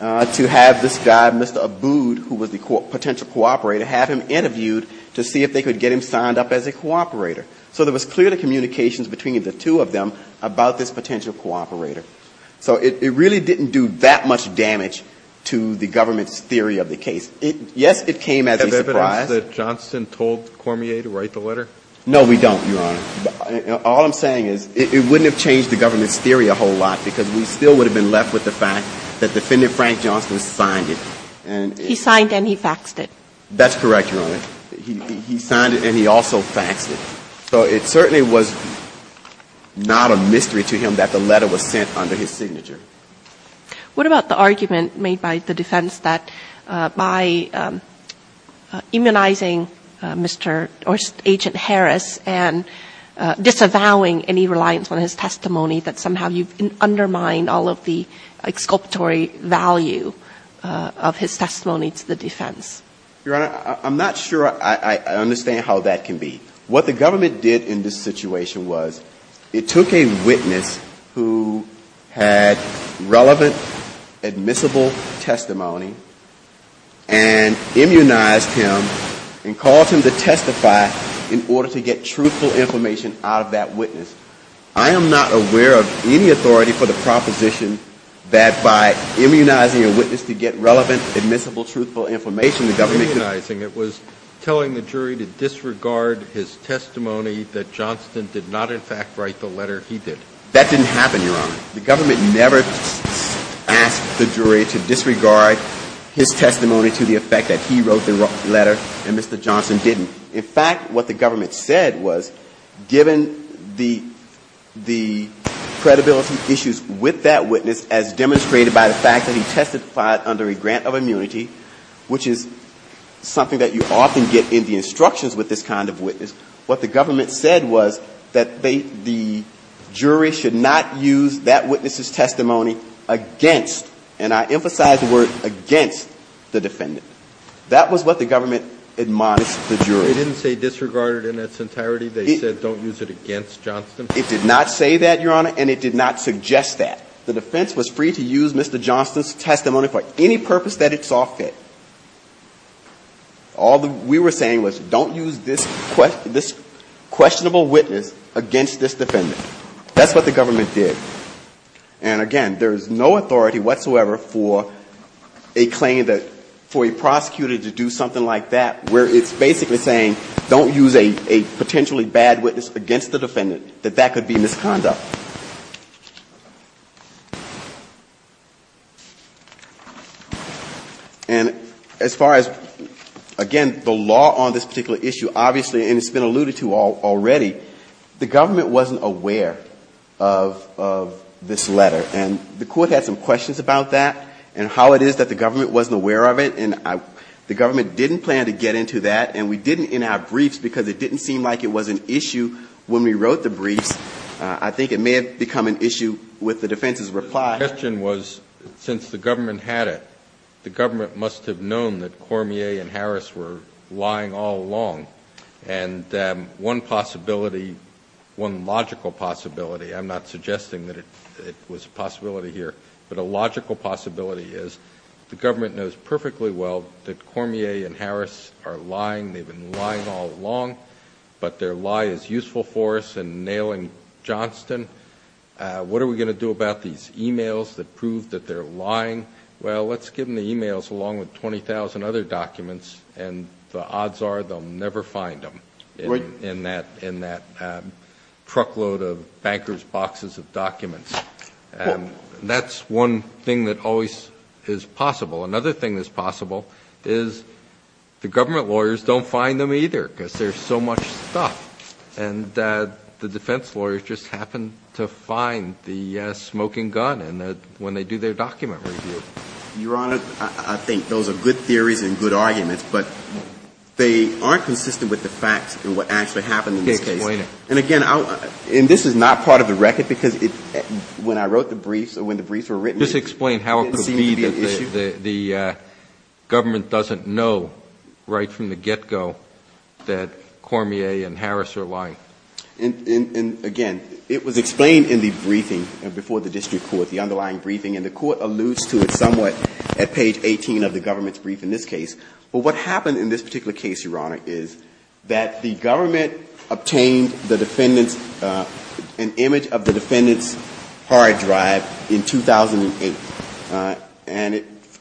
to have this guy, Mr. Abood, who was the potential cooperator, have him interviewed to see if they could get him signed up as a cooperator. So there was clearly communications between the two of them about this potential cooperator. So it really didn't do that much damage to the government's theory of the case, yet it came as a surprise. Was there evidence that Johnston told Cormier to write the letter? No, we don't, Your Honor. All I'm saying is it wouldn't have changed the government's theory a whole lot, because we still would have been left with the fact that Defendant Frank Johnston signed it. That's correct, Your Honor. He signed it, and he also faxed it. So it certainly was not a mystery to him that the letter was sent under his signature. What about the argument made by the defense that by immunizing Agent Harris and disavowing any reliance on his testimony, that somehow you've undermined all of the exculpatory value of his testimony to the defense? Your Honor, I'm not sure I understand how that can be. What the government did in this situation was it took a witness who had relevant, admissible testimony and immunized him and caused him to testify in order to get truthful information out of that witness. I am not aware of any authority for the proposition that by immunizing a witness you get relevant, admissible, truthful information. By immunizing, it was telling the jury to disregard his testimony that Johnston did not in fact write the letter he did. That didn't happen, Your Honor. The government never asked the jury to disregard his testimony to the effect that he wrote the letter, and Mr. Johnston didn't. In fact, what the government said was given the credibility issues with that witness as demonstrated by the fact that he testified under a grant of immunity, which is something that you often get in the instructions with this kind of witness, what the government said was that the jury should not use that witness's testimony against, and I emphasize the word against, the defendant. That was what the government admonished the jury. They didn't say disregarded in its entirety? They said don't use it against Johnston? It did not say that, Your Honor, and it did not suggest that. The defense was free to use Mr. Johnston's testimony for any purpose that it saw fit. All we were saying was don't use this questionable witness against this defendant. That's what the government did. And again, there's no authority whatsoever for a claim that, for a prosecutor to do something like that where it's basically saying don't use a potentially bad witness against the defendant, that that could be misconduct. And as far as, again, the law on this particular issue, obviously, and it's been alluded to already, the government wasn't aware of this letter, and the court had some questions about that and how it is that the government wasn't aware of it, and the government didn't plan to get into that, and we didn't in our briefs because it didn't seem like it was an issue when we wrote the brief. I think it may have become an issue with the defense's reply. The question was, since the government had it, the government must have known that Cormier and Harris were lying all along. And one possibility, one logical possibility, I'm not suggesting that it was a possibility here, but a logical possibility is the government knows perfectly well that Cormier and Harris are lying. They've been lying all along, but their lie is useful for us in nailing Johnston. What are we going to do about these e-mails that prove that they're lying? Well, let's give them the e-mails along with 20,000 other documents, and the odds are they'll never find them in that truckload of bankers' boxes of documents. And that's one thing that always is possible. Another thing that's possible is the government lawyers don't find them either because there's so much stuff, and the defense lawyers just happen to find the smoking gun when they do their document review. Your Honor, I think those are good theories and good arguments, but they aren't consistent with the facts and what actually happened in the case. And again, this is not part of the record because when I wrote the brief, Just explain how it could be that the government doesn't know right from the get-go that Cormier and Harris are lying. And again, it was explained in the briefing before the district court, the underlying briefing, and the court alludes to it somewhat at page 18 of the government's brief in this case. But what happened in this particular case, Your Honor, is that the government obtained an image of the defendant's hard drive in 2008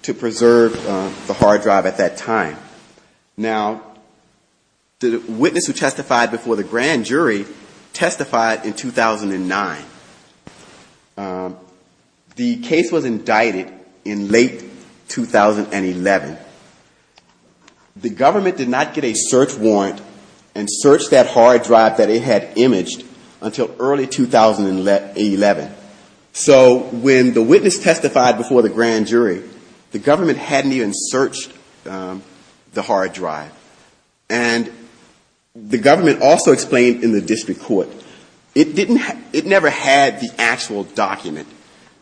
to preserve the hard drive at that time. Now, the witness who testified before the grand jury testified in 2009. The case was indicted in late 2011. The government did not get a search warrant and search that hard drive that it had imaged until early 2011. So when the witness testified before the grand jury, the government hadn't even searched the hard drive. And the government also explained in the district court, it never had the actual document.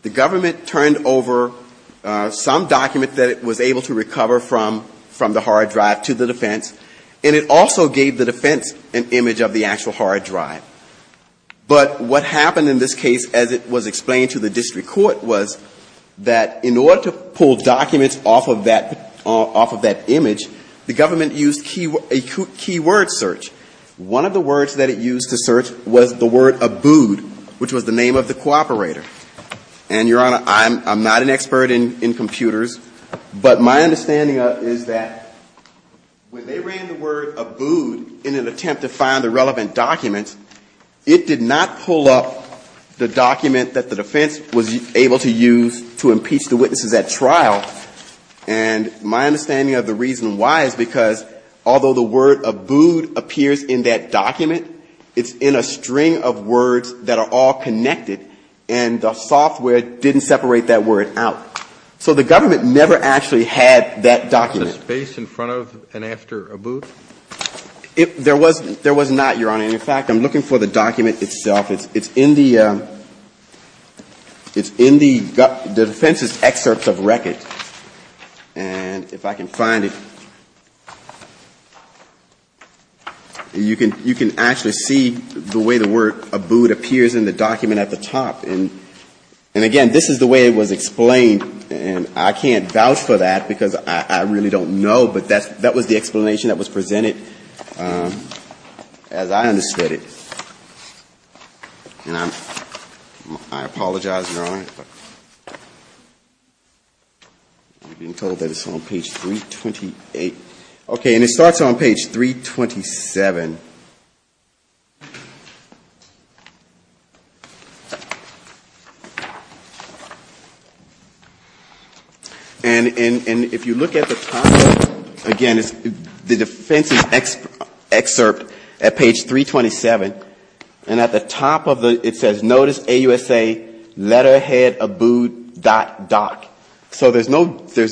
The government turned over some documents that it was able to recover from the hard drive to the defense, and it also gave the defense an image of the actual hard drive. But what happened in this case as it was explained to the district court was that in order to pull documents off of that image, the government used a keyword search. One of the words that it used to search was the word ABOOD, which was the name of the cooperator. And, Your Honor, I'm not an expert in computers, but my understanding is that when they ran the word ABOOD in an attempt to find a relevant document, it did not pull up the document that the defense was able to use to impeach the witnesses at trial. And my understanding of the reason why is because although the word ABOOD appears in that document, it's in a string of words that are all connected, and the software didn't separate that word out. So the government never actually had that document. Was there space in front of and after ABOOD? There was not, Your Honor. And, in fact, I'm looking for the document itself. It's in the defense's excerpts of records. And if I can find it, you can actually see the way the word ABOOD appears in the document at the top. And, again, this is the way it was explained, and I can't vouch for that because I really don't know, but that was the explanation that was presented as I understood it. And I apologize, Your Honor, for being told that it's on page 328. Okay, and it starts on page 327. And if you look at the top, again, it's the defense's excerpt at page 327, and at the top of it, it says, Notice AUSA, letterhead, ABOOD, dot, dot. So there's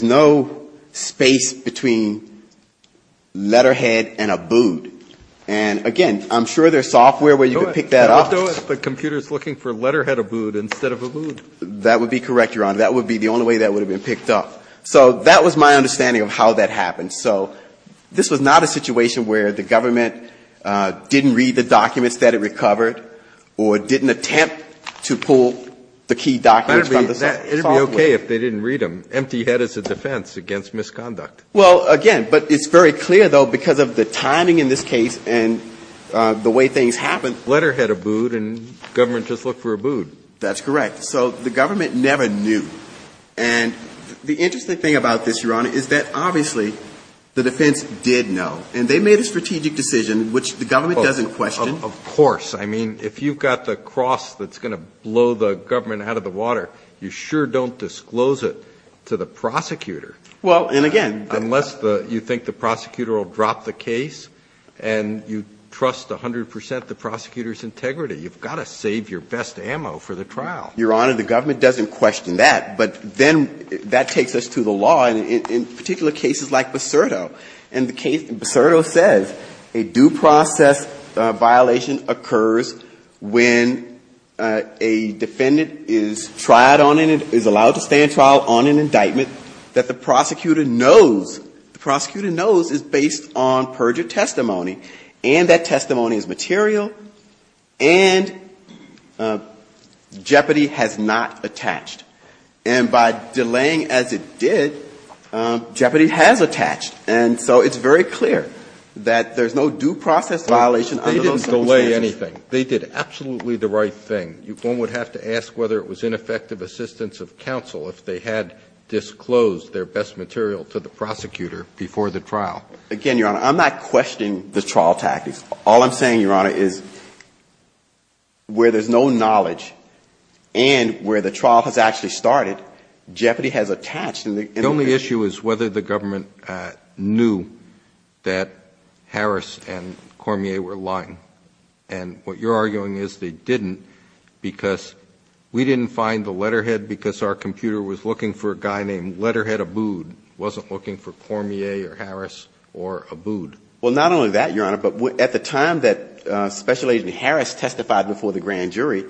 no space between letterhead and ABOOD. And, again, I'm sure there's software where you can pick that up. What if the computer is looking for letterhead ABOOD instead of ABOOD? That would be correct, Your Honor. That would be the only way that would have been picked up. So that was my understanding of how that happens. So this was not a situation where the government didn't read the document, said it recovered, or didn't attempt to pull the key documents from the software. It would be okay if they didn't read them. Empty head is a defense against misconduct. Well, again, but it's very clear, though, because of the timing in this case and the way things happened. Letterhead ABOOD and government just looked for ABOOD. That's correct. So the government never knew. And the interesting thing about this, Your Honor, is that, obviously, the defense did know. And they made a strategic decision, which the government doesn't question. Of course. I mean, if you've got the cross that's going to blow the government out of the water, you sure don't disclose it to the prosecutor. Well, and again, Unless you think the prosecutor will drop the case and you trust 100% the prosecutor's integrity, you've got to save your best ammo for the trial. Your Honor, the government doesn't question that. But then that takes us to the law, and in particular cases like Becerro. And Becerro says a due process violation occurs when a defendant is allowed to stand trial on an indictment that the prosecutor knows is based on purgent testimony, and that testimony is material, and Jeopardy! has not attached. And by delaying as it did, Jeopardy! has attached. And so it's very clear that there's no due process violation. They didn't delay anything. They did absolutely the right thing. One would have to ask whether it was ineffective assistance of counsel if they had disclosed their best material to the prosecutor before the trial. Again, Your Honor, I'm not questioning the trial tactics. All I'm saying, Your Honor, is where there's no knowledge and where the trial has actually started, Jeopardy! has attached. The only issue is whether the government knew that Harris and Cormier were lying. And what you're arguing is they didn't because we didn't find the letterhead because our computer was looking for a guy named Letterhead Abood. It wasn't looking for Cormier or Harris or Abood. Well, not only that, Your Honor, but at the time that Special Agent Harris testified before the grand jury,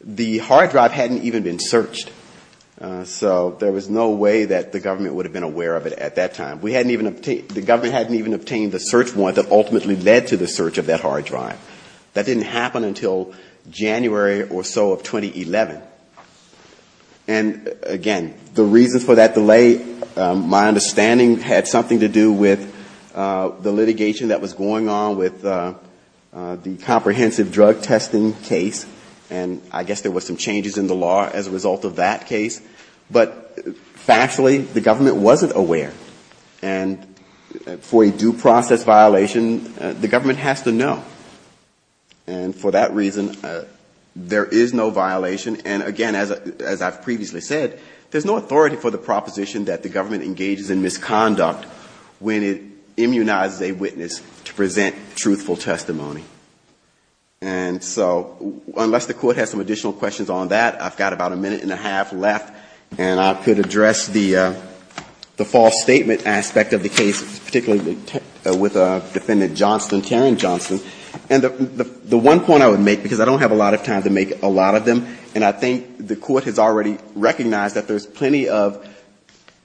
the hard drive hadn't even been searched. So there was no way that the government would have been aware of it at that time. The government hadn't even obtained the search warrant that ultimately led to the search of that hard drive. That didn't happen until January or so of 2011. And again, the reason for that delay, my understanding, had something to do with the litigation that was going on with the comprehensive drug testing case. And I guess there were some changes in the law as a result of that case. But factually, the government wasn't aware. And for a due process violation, the government has to know. And for that reason, there is no violation. And again, as I've previously said, there's no authority for the proposition that the government engages in misconduct when it immunizes a witness to present truthful testimony. And so unless the court has some additional questions on that, I've got about a minute and a half left, and I could address the false statement aspect of the case, particularly with Defendant Johnston, Taryn Johnston. And the one point I would make, because I don't have a lot of time to make a lot of them, and I think the court has already recognized that there's plenty of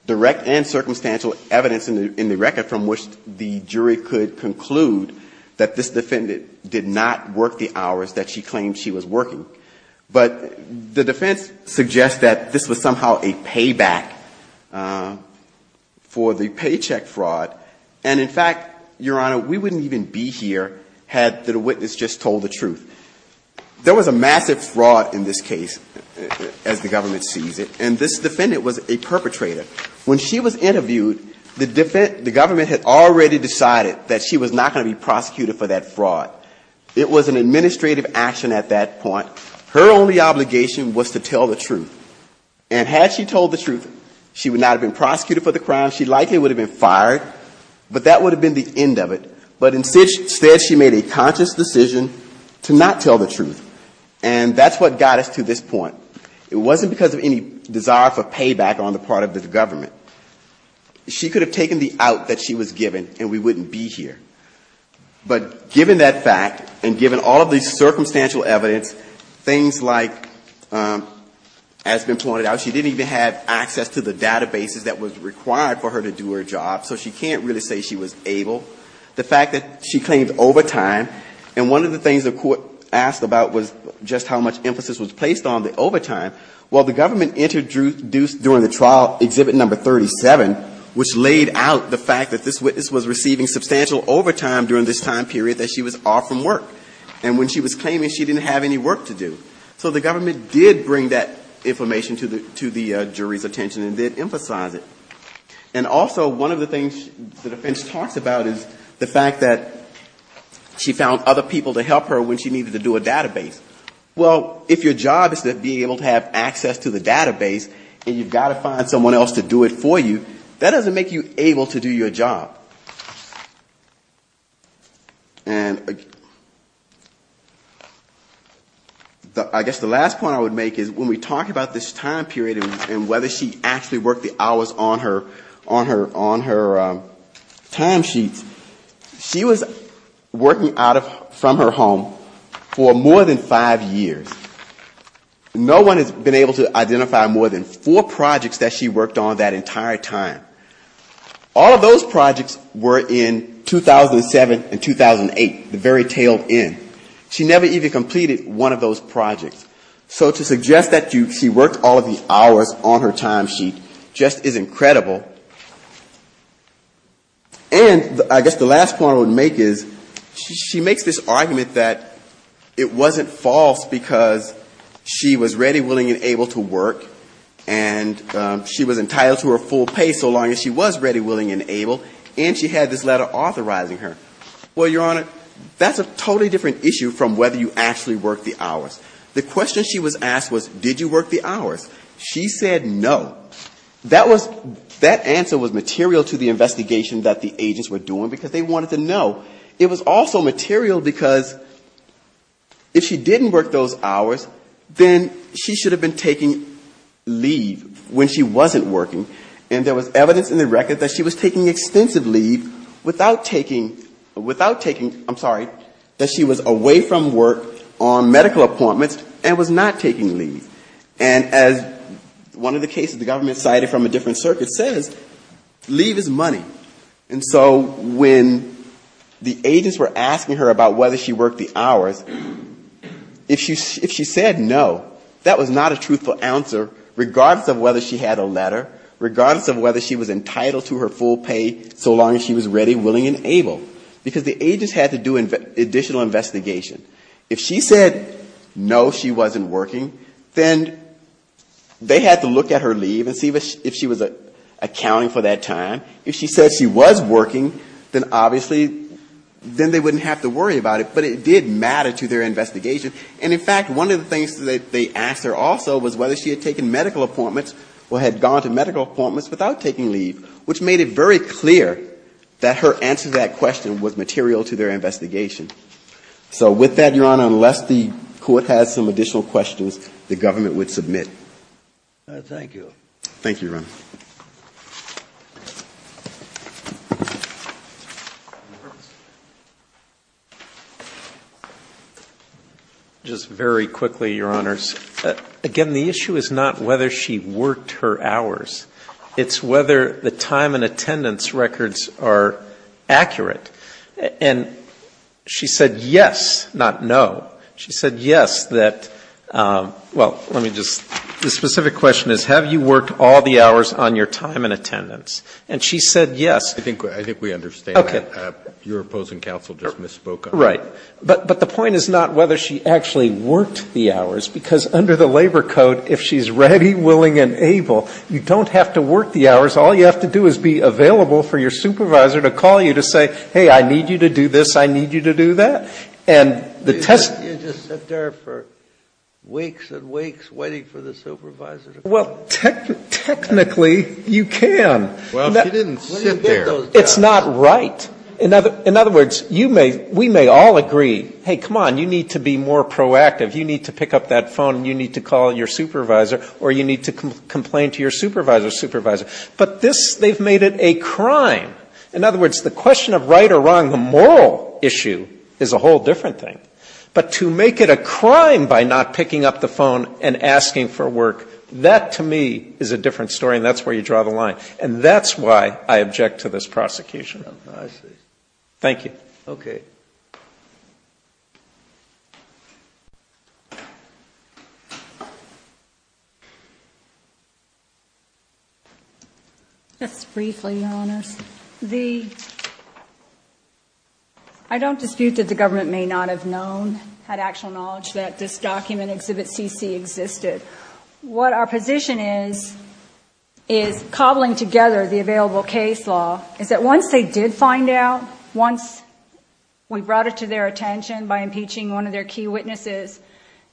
direct and circumstantial evidence in the record from which the jury could conclude that this defendant did not work the hours that she claimed she was working. But the defense suggests that this was somehow a payback for the paycheck fraud. And in fact, Your Honor, we wouldn't even be here had the witness just told the truth. There was a massive fraud in this case, as the government sees it, and this defendant was a perpetrator. When she was interviewed, the government had already decided that she was not going to be prosecuted for that fraud. It was an administrative action at that point. Her only obligation was to tell the truth. And had she told the truth, she would not have been prosecuted for the crime. She likely would have been fired, but that would have been the end of it. But instead, she made a conscious decision to not tell the truth, and that's what got us to this point. It wasn't because of any desire for payback on the part of the government. She could have taken the out that she was given, and we wouldn't be here. But given that fact, and given all of the circumstantial evidence, things like, as has been pointed out, she didn't even have access to the databases that was required for her to do her job, so she can't really say she was able. The fact that she claims overtime, and one of the things the court asked about was just how much emphasis was placed on the overtime. Well, the government introduced during the trial Exhibit No. 37, which laid out the fact that this witness was receiving substantial overtime during this time period that she was off from work. And when she was claiming, she didn't have any work to do. So the government did bring that information to the jury's attention and did emphasize it. And also, one of the things the defense talked about is the fact that she found other people to help her when she needed to do a database. Well, if your job is to be able to have access to the database, and you've got to find someone else to do it for you, that doesn't make you able to do your job. I guess the last point I would make is when we talk about this time period and whether she actually worked the hours on her time sheet, she was working from her home for more than five years. No one has been able to identify more than four projects that she worked on that entire time. All of those projects were in 2007 and 2008, the very tail end. She never even completed one of those projects. So to suggest that she worked all of the hours on her time sheet just is incredible. And I guess the last point I would make is she makes this argument that it wasn't false because she was ready, willing, and able to work, and she was entitled to her full pay so long as she was ready, willing, and able, and she had this letter authorizing her. Well, Your Honor, that's a totally different issue from whether you actually worked the hours. The question she was asked was, did you work the hours? She said no. That answer was material to the investigation that the agents were doing because they wanted to know. It was also material because if she didn't work those hours, then she should have been taking leave when she wasn't working. And there was evidence in the record that she was taking extensive leave without taking, I'm sorry, that she was away from work on medical appointments and was not taking leave. And as one of the cases the government cited from a different circuit says, leave is money. And so when the agents were asking her about whether she worked the hours, if she said no, that was not a truthful answer regardless of whether she had a letter, regardless of whether she was entitled to her full pay so long as she was ready, willing, and able, because the agents had to do additional investigation. If she said no, she wasn't working, then they had to look at her leave and see if she was accounting for that time. If she said she was working, then obviously they wouldn't have to worry about it, but it did matter to their investigation. And in fact, one of the things that they asked her also was whether she had taken medical appointments or had gone to medical appointments without taking leave, which made it very clear that her answer to that question was material to their investigation. So with that, Your Honor, unless the court has some additional questions, the government would submit. Thank you. Thank you, Your Honor. Just very quickly, Your Honors, again, the issue is not whether she worked her hours. It's whether the time and attendance records are accurate. And she said yes, not no. She said yes that, well, let me just, the specific question is, have you worked all the hours on your time and attendance? And she said yes. I think we understand that. Your opposing counsel just misspoke on that. Right. But the point is not whether she actually worked the hours, because under the labor code, if she's ready, willing, and able, you don't have to work the hours. All you have to do is be available for your supervisor to call you to say, hey, I need you to do this, I need you to do that. You just sat there for weeks and weeks waiting for the supervisor to call you. Well, technically, you can. Well, you didn't sit there. It's not right. In other words, we may all agree, hey, come on, you need to be more proactive. You need to pick up that phone and you need to call your supervisor or you need to complain to your supervisor's supervisor. But this, they've made it a crime. In other words, the question of right or wrong, the moral issue, is a whole different thing. But to make it a crime by not picking up the phone and asking for work, that to me is a different story and that's where you draw the line. And that's why I object to this prosecution. Thank you. Okay. Just briefly, Your Honor. I don't dispute that the government may not have known, had actual knowledge, that this document, Exhibit CC, existed. What our position is, is cobbling together the available case law, is that once they did find out, once we brought it to their attention by impeaching one of their key witnesses,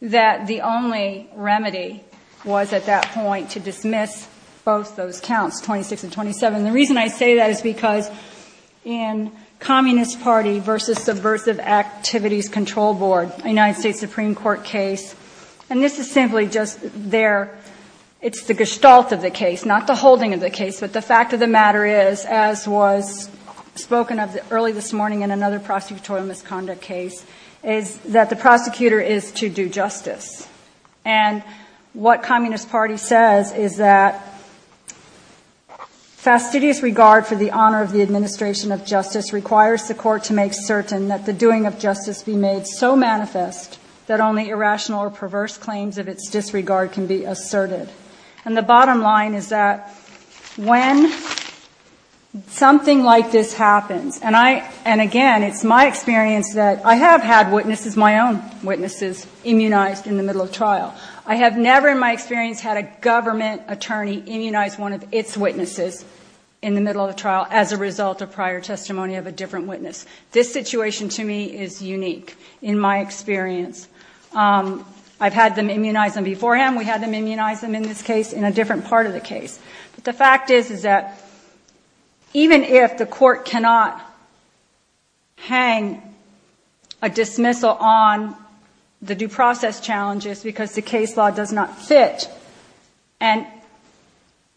that the only remedy was at that point to dismiss both those counts, 26 and 27. The reason I say that is because in Communist Party versus Subversive Activities Control Board, a United States Supreme Court case, and this is simply just their, it's the gestalt of the case, not the holding of the case, but the fact of the matter is, as was spoken of early this morning in another prosecutorial misconduct case, is that the prosecutor is to do justice. And what Communist Party says is that fastidious regard for the honor of the administration of justice requires the court to make certain that the doing of justice be made so manifest that only irrational or perverse claims of its disregard can be asserted. And the bottom line is that when something like this happens, and again, it's my experience that I have had witnesses, my own witnesses, immunized in the middle of trial. I have never in my experience had a government attorney immunize one of its witnesses in the middle of trial as a result of prior testimony of a different witness. This situation to me is unique in my experience. I've had them immunize them beforehand. We had them immunize them in this case in a different part of the case. But the fact is that even if the court cannot hang a dismissal on the due process challenges because the case law does not fit, and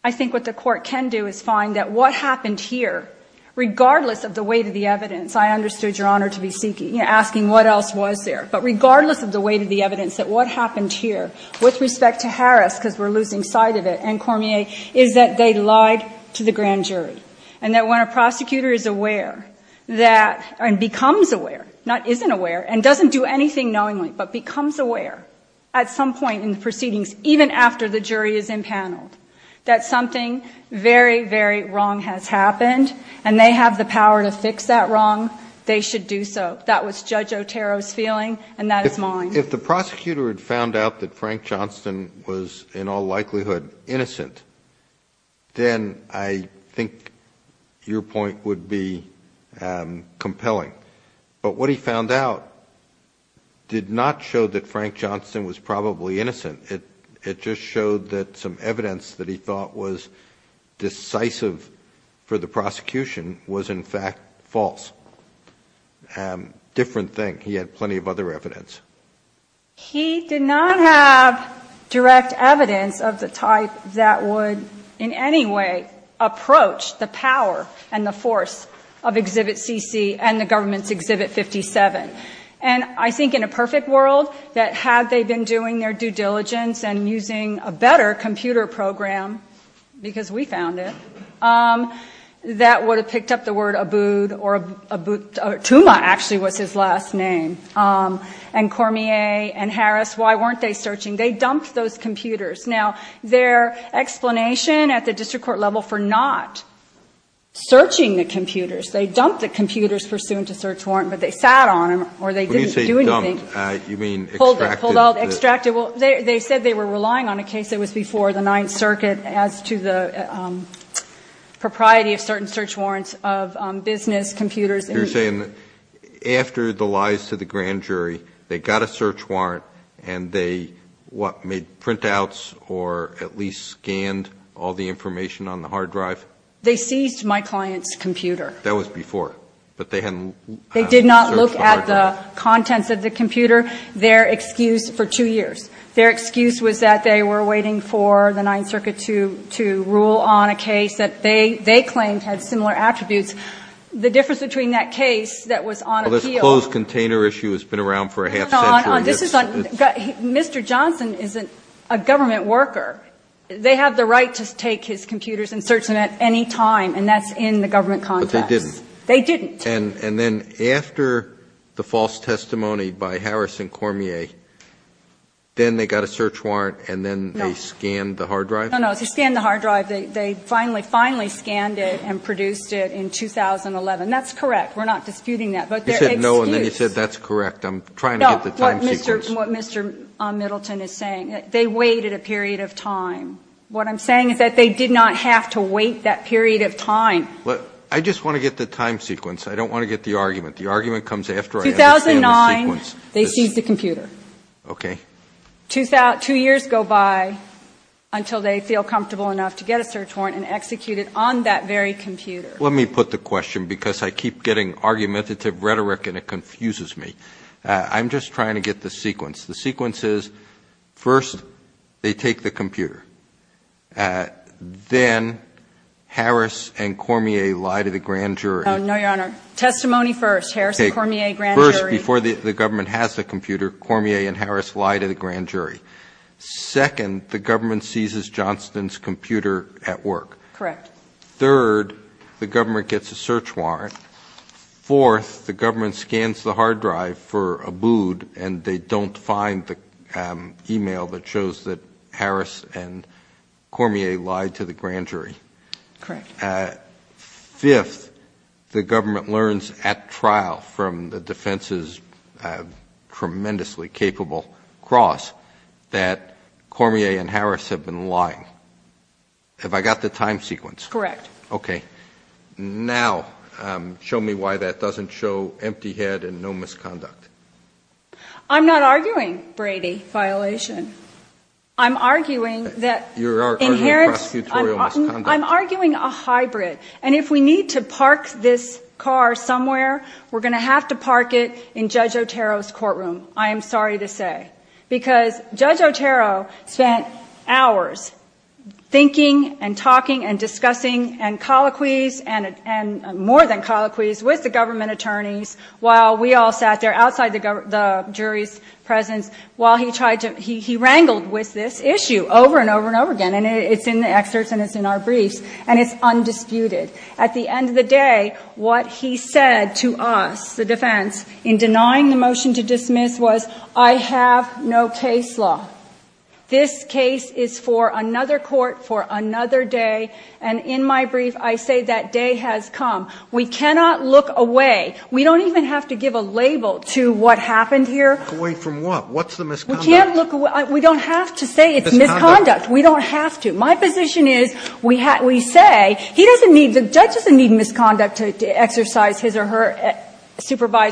I think what the court can do is find that what happened here, regardless of the weight of the evidence, I understood your honor to be speaking, asking what else was there, but regardless of the weight of the evidence, that what happened here with respect to Harris, because we're losing sight of it, and Cormier, is that they lied to the grand jury. And that when a prosecutor is aware and becomes aware, not isn't aware, and doesn't do anything knowingly but becomes aware at some point in proceedings, even after the jury is impounded, that something very, very wrong has happened and they have the power to fix that wrong, they should do so. That was Judge Otero's feeling, and that is mine. If the prosecutor had found out that Frank Johnston was in all likelihood innocent, then I think your point would be compelling. But what he found out did not show that Frank Johnston was probably innocent. It just showed that some evidence that he thought was decisive for the prosecution was, in fact, false. Different thing. He had plenty of other evidence. He did not have direct evidence of the type that would in any way approach the power and the force of Exhibit CC and the government's Exhibit 57. And I think in a perfect world, that had they been doing their due diligence and using a better computer program, because we found it, that would have picked up the word Abud or Tuma, actually, was his last name, and Cormier and Harris, why weren't they searching? They dumped those computers. Now, their explanation at the district court level for not searching the computers, they dumped the computers pursuant to search warrant, but they sat on them or they didn't do anything. When you say dumped, you mean extracted? Pulled out, extracted. Well, they said they were relying on a case that was before the Ninth Circuit as to the propriety of certain search warrants of business computers. You're saying that after the lies to the grand jury, they got a search warrant, and they, what, made printouts or at least scanned all the information on the hard drive? They seized my client's computer. That was before, but they hadn't searched the hard drive. They did not look at the contents of the computer. Their excuse for two years, their excuse was that they were waiting for the Ninth Circuit to rule on a case that they claimed had similar attributes. The difference between that case that was on appeal. Well, this closed container issue has been around for a half century. Mr. Johnson is a government worker. They have the right to take his computers and search them at any time, and that's in the government context. But they didn't. They didn't. And then after the false testimony by Harris and Cormier, then they got a search warrant, and then they scanned the hard drive? No, no, they scanned the hard drive. They finally, finally scanned it and produced it in 2011. That's correct. We're not disputing that. You said no, and then you said that's correct. I'm trying to get the time sequence. No, what Mr. Middleton is saying, they waited a period of time. What I'm saying is that they did not have to wait that period of time. I just want to get the time sequence. I don't want to get the argument. The argument comes after I have the time sequence. 2009, they seized the computer. Okay. Two years go by until they feel comfortable enough to get a search warrant and execute it on that very computer. Let me put the question, because I keep getting argumentative rhetoric, and it confuses me. I'm just trying to get the sequence. The sequence is, first, they take the computer. Then Harris and Cormier lie to the grand jury. No, Your Honor. Testimony first. Harris and Cormier, grand jury. First, before the government has the computer, Cormier and Harris lie to the grand jury. Second, the government seizes Johnston's computer at work. Correct. Third, the government gets a search warrant. Fourth, the government scans the hard drive for Abood, and they don't find the e-mail that shows that Harris and Cormier lied to the grand jury. Correct. Fifth, the government learns at trial from the defense's tremendously capable cross that Cormier and Harris have been lying. Have I got the time sequence? Correct. Okay. Now, show me why that doesn't show empty head and no misconduct. I'm not arguing, Brady, violation. I'm arguing that inherent – You are arguing prosecutorial misconduct. I'm arguing a hybrid. And if we need to park this car somewhere, we're going to have to park it in Judge Otero's courtroom, I am sorry to say, because Judge Otero spent hours thinking and talking and discussing and colloquies and more than colloquies with the government attorneys while we all sat there outside the jury's presence while he tried to – he wrangled with this issue over and over and over again, and it's in the excerpt and it's in our brief, and it's undisputed. At the end of the day, what he said to us, the defense, in denying the motion to dismiss was, I have no case law. This case is for another court for another day, and in my brief, I say that day has come. We cannot look away. We don't even have to give a label to what happened here. Look away from what? What's the misconduct? We don't have to say it's misconduct. We don't have to. My position is we say he doesn't need – the judge doesn't need misconduct to exercise his or her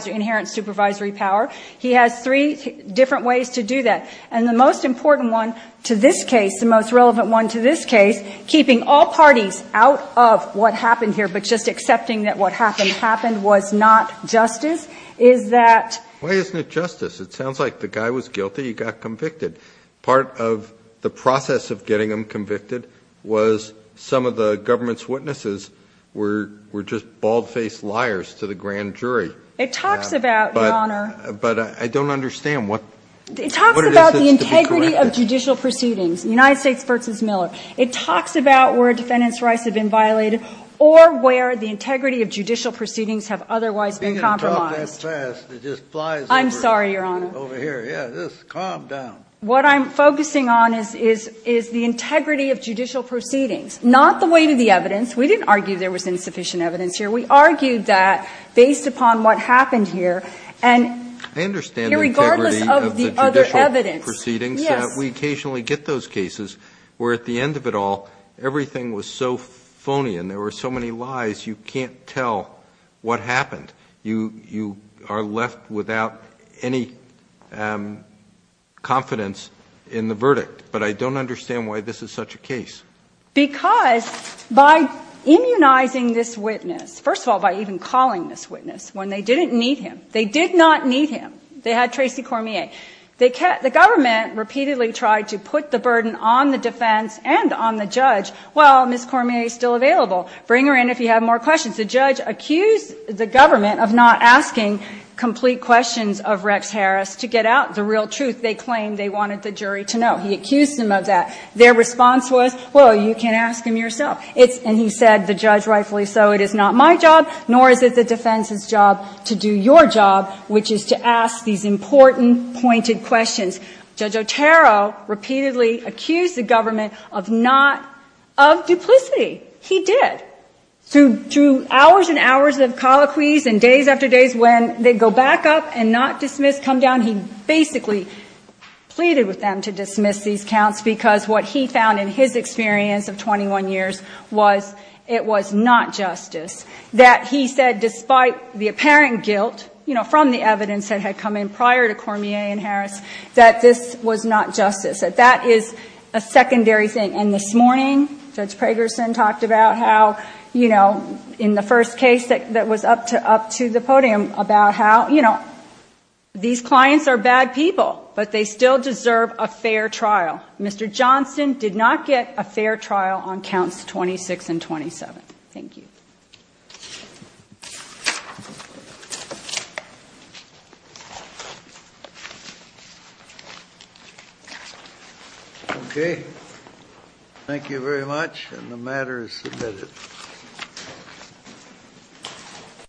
inherent supervisory power. He has three different ways to do that, and the most important one to this case, the most relevant one to this case, keeping all parties out of what happened here but just accepting that what happened happened was not justice, is that – Why isn't it justice? It sounds like the guy was guilty. He got convicted. Part of the process of getting him convicted was some of the government's witnesses were just bald-faced liars to the grand jury. It talks about, Your Honor – But I don't understand what – It talks about the integrity of judicial proceedings, United States v. Miller. It talks about where defendants' rights have been violated or where the integrity of judicial proceedings have otherwise been compromised. You can't talk that fast. It just flies over. I'm sorry, Your Honor. Calm down. What I'm focusing on is the integrity of judicial proceedings, not the weight of the evidence. We didn't argue there was insufficient evidence here. We argued that based upon what happened here. I understand the integrity of the judicial proceedings. We occasionally get those cases where at the end of it all, everything was so phony and there were so many lies you can't tell what happened. You are left without any confidence in the verdict. But I don't understand why this is such a case. Because by immunizing this witness, first of all, by even calling this witness when they didn't need him, they did not need him. They had Tracy Cormier. The government repeatedly tried to put the burden on the defense and on the judge. Well, Ms. Cormier is still available. Bring her in if you have more questions. The judge accused the government of not asking complete questions of Rex Harris to get out the real truth they claimed they wanted the jury to know. He accused them of that. Their response was, well, you can ask him yourself. And he said, the judge, rightfully so, it is not my job, nor is it the defense's job, to do your job, which is to ask these important, pointed questions. Judge Otero repeatedly accused the government of duplicity. He did. Through hours and hours of colloquies and days after days when they go back up and not dismiss, come down, he basically pleaded with them to dismiss these counts because what he found in his experience of 21 years was it was not justice, that he said despite the apparent guilt from the evidence that had come in prior to Cormier and Harris that this was not justice, that that is a secondary thing. And this morning Judge Pragerson talked about how, you know, in the first case that was up to the podium, about how, you know, these clients are bad people, but they still deserve a fair trial. Mr. Johnson did not get a fair trial on counts 26 and 27. Thank you. Okay. Thank you very much.